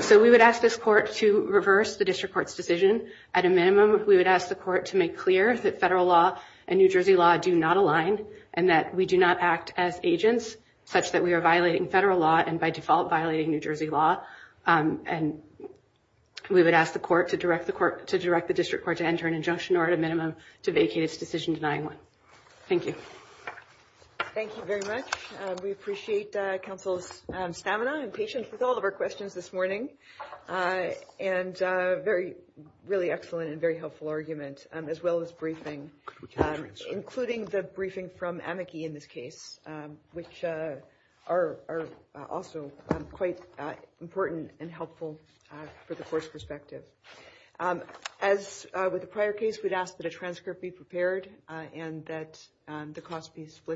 So we would ask this court to reverse the district court's decision. At a minimum, we would ask the court to make clear that federal law and New Jersey law do not align and that we do not act as agents such that we are violating federal law and, by default, violating New Jersey law. And we would ask the court to direct the district court to enter an injunction or, at a minimum, to vacate its decision denying one. Thank you. Thank you very much. We appreciate counsel's stamina and patience with all of our questions this morning. And a really excellent and very helpful argument, as well as briefing, including the briefing from amici in this case, which are also quite important and helpful for the court's perspective. As with the prior case, we'd ask that a transcript be prepared and that the cost be split.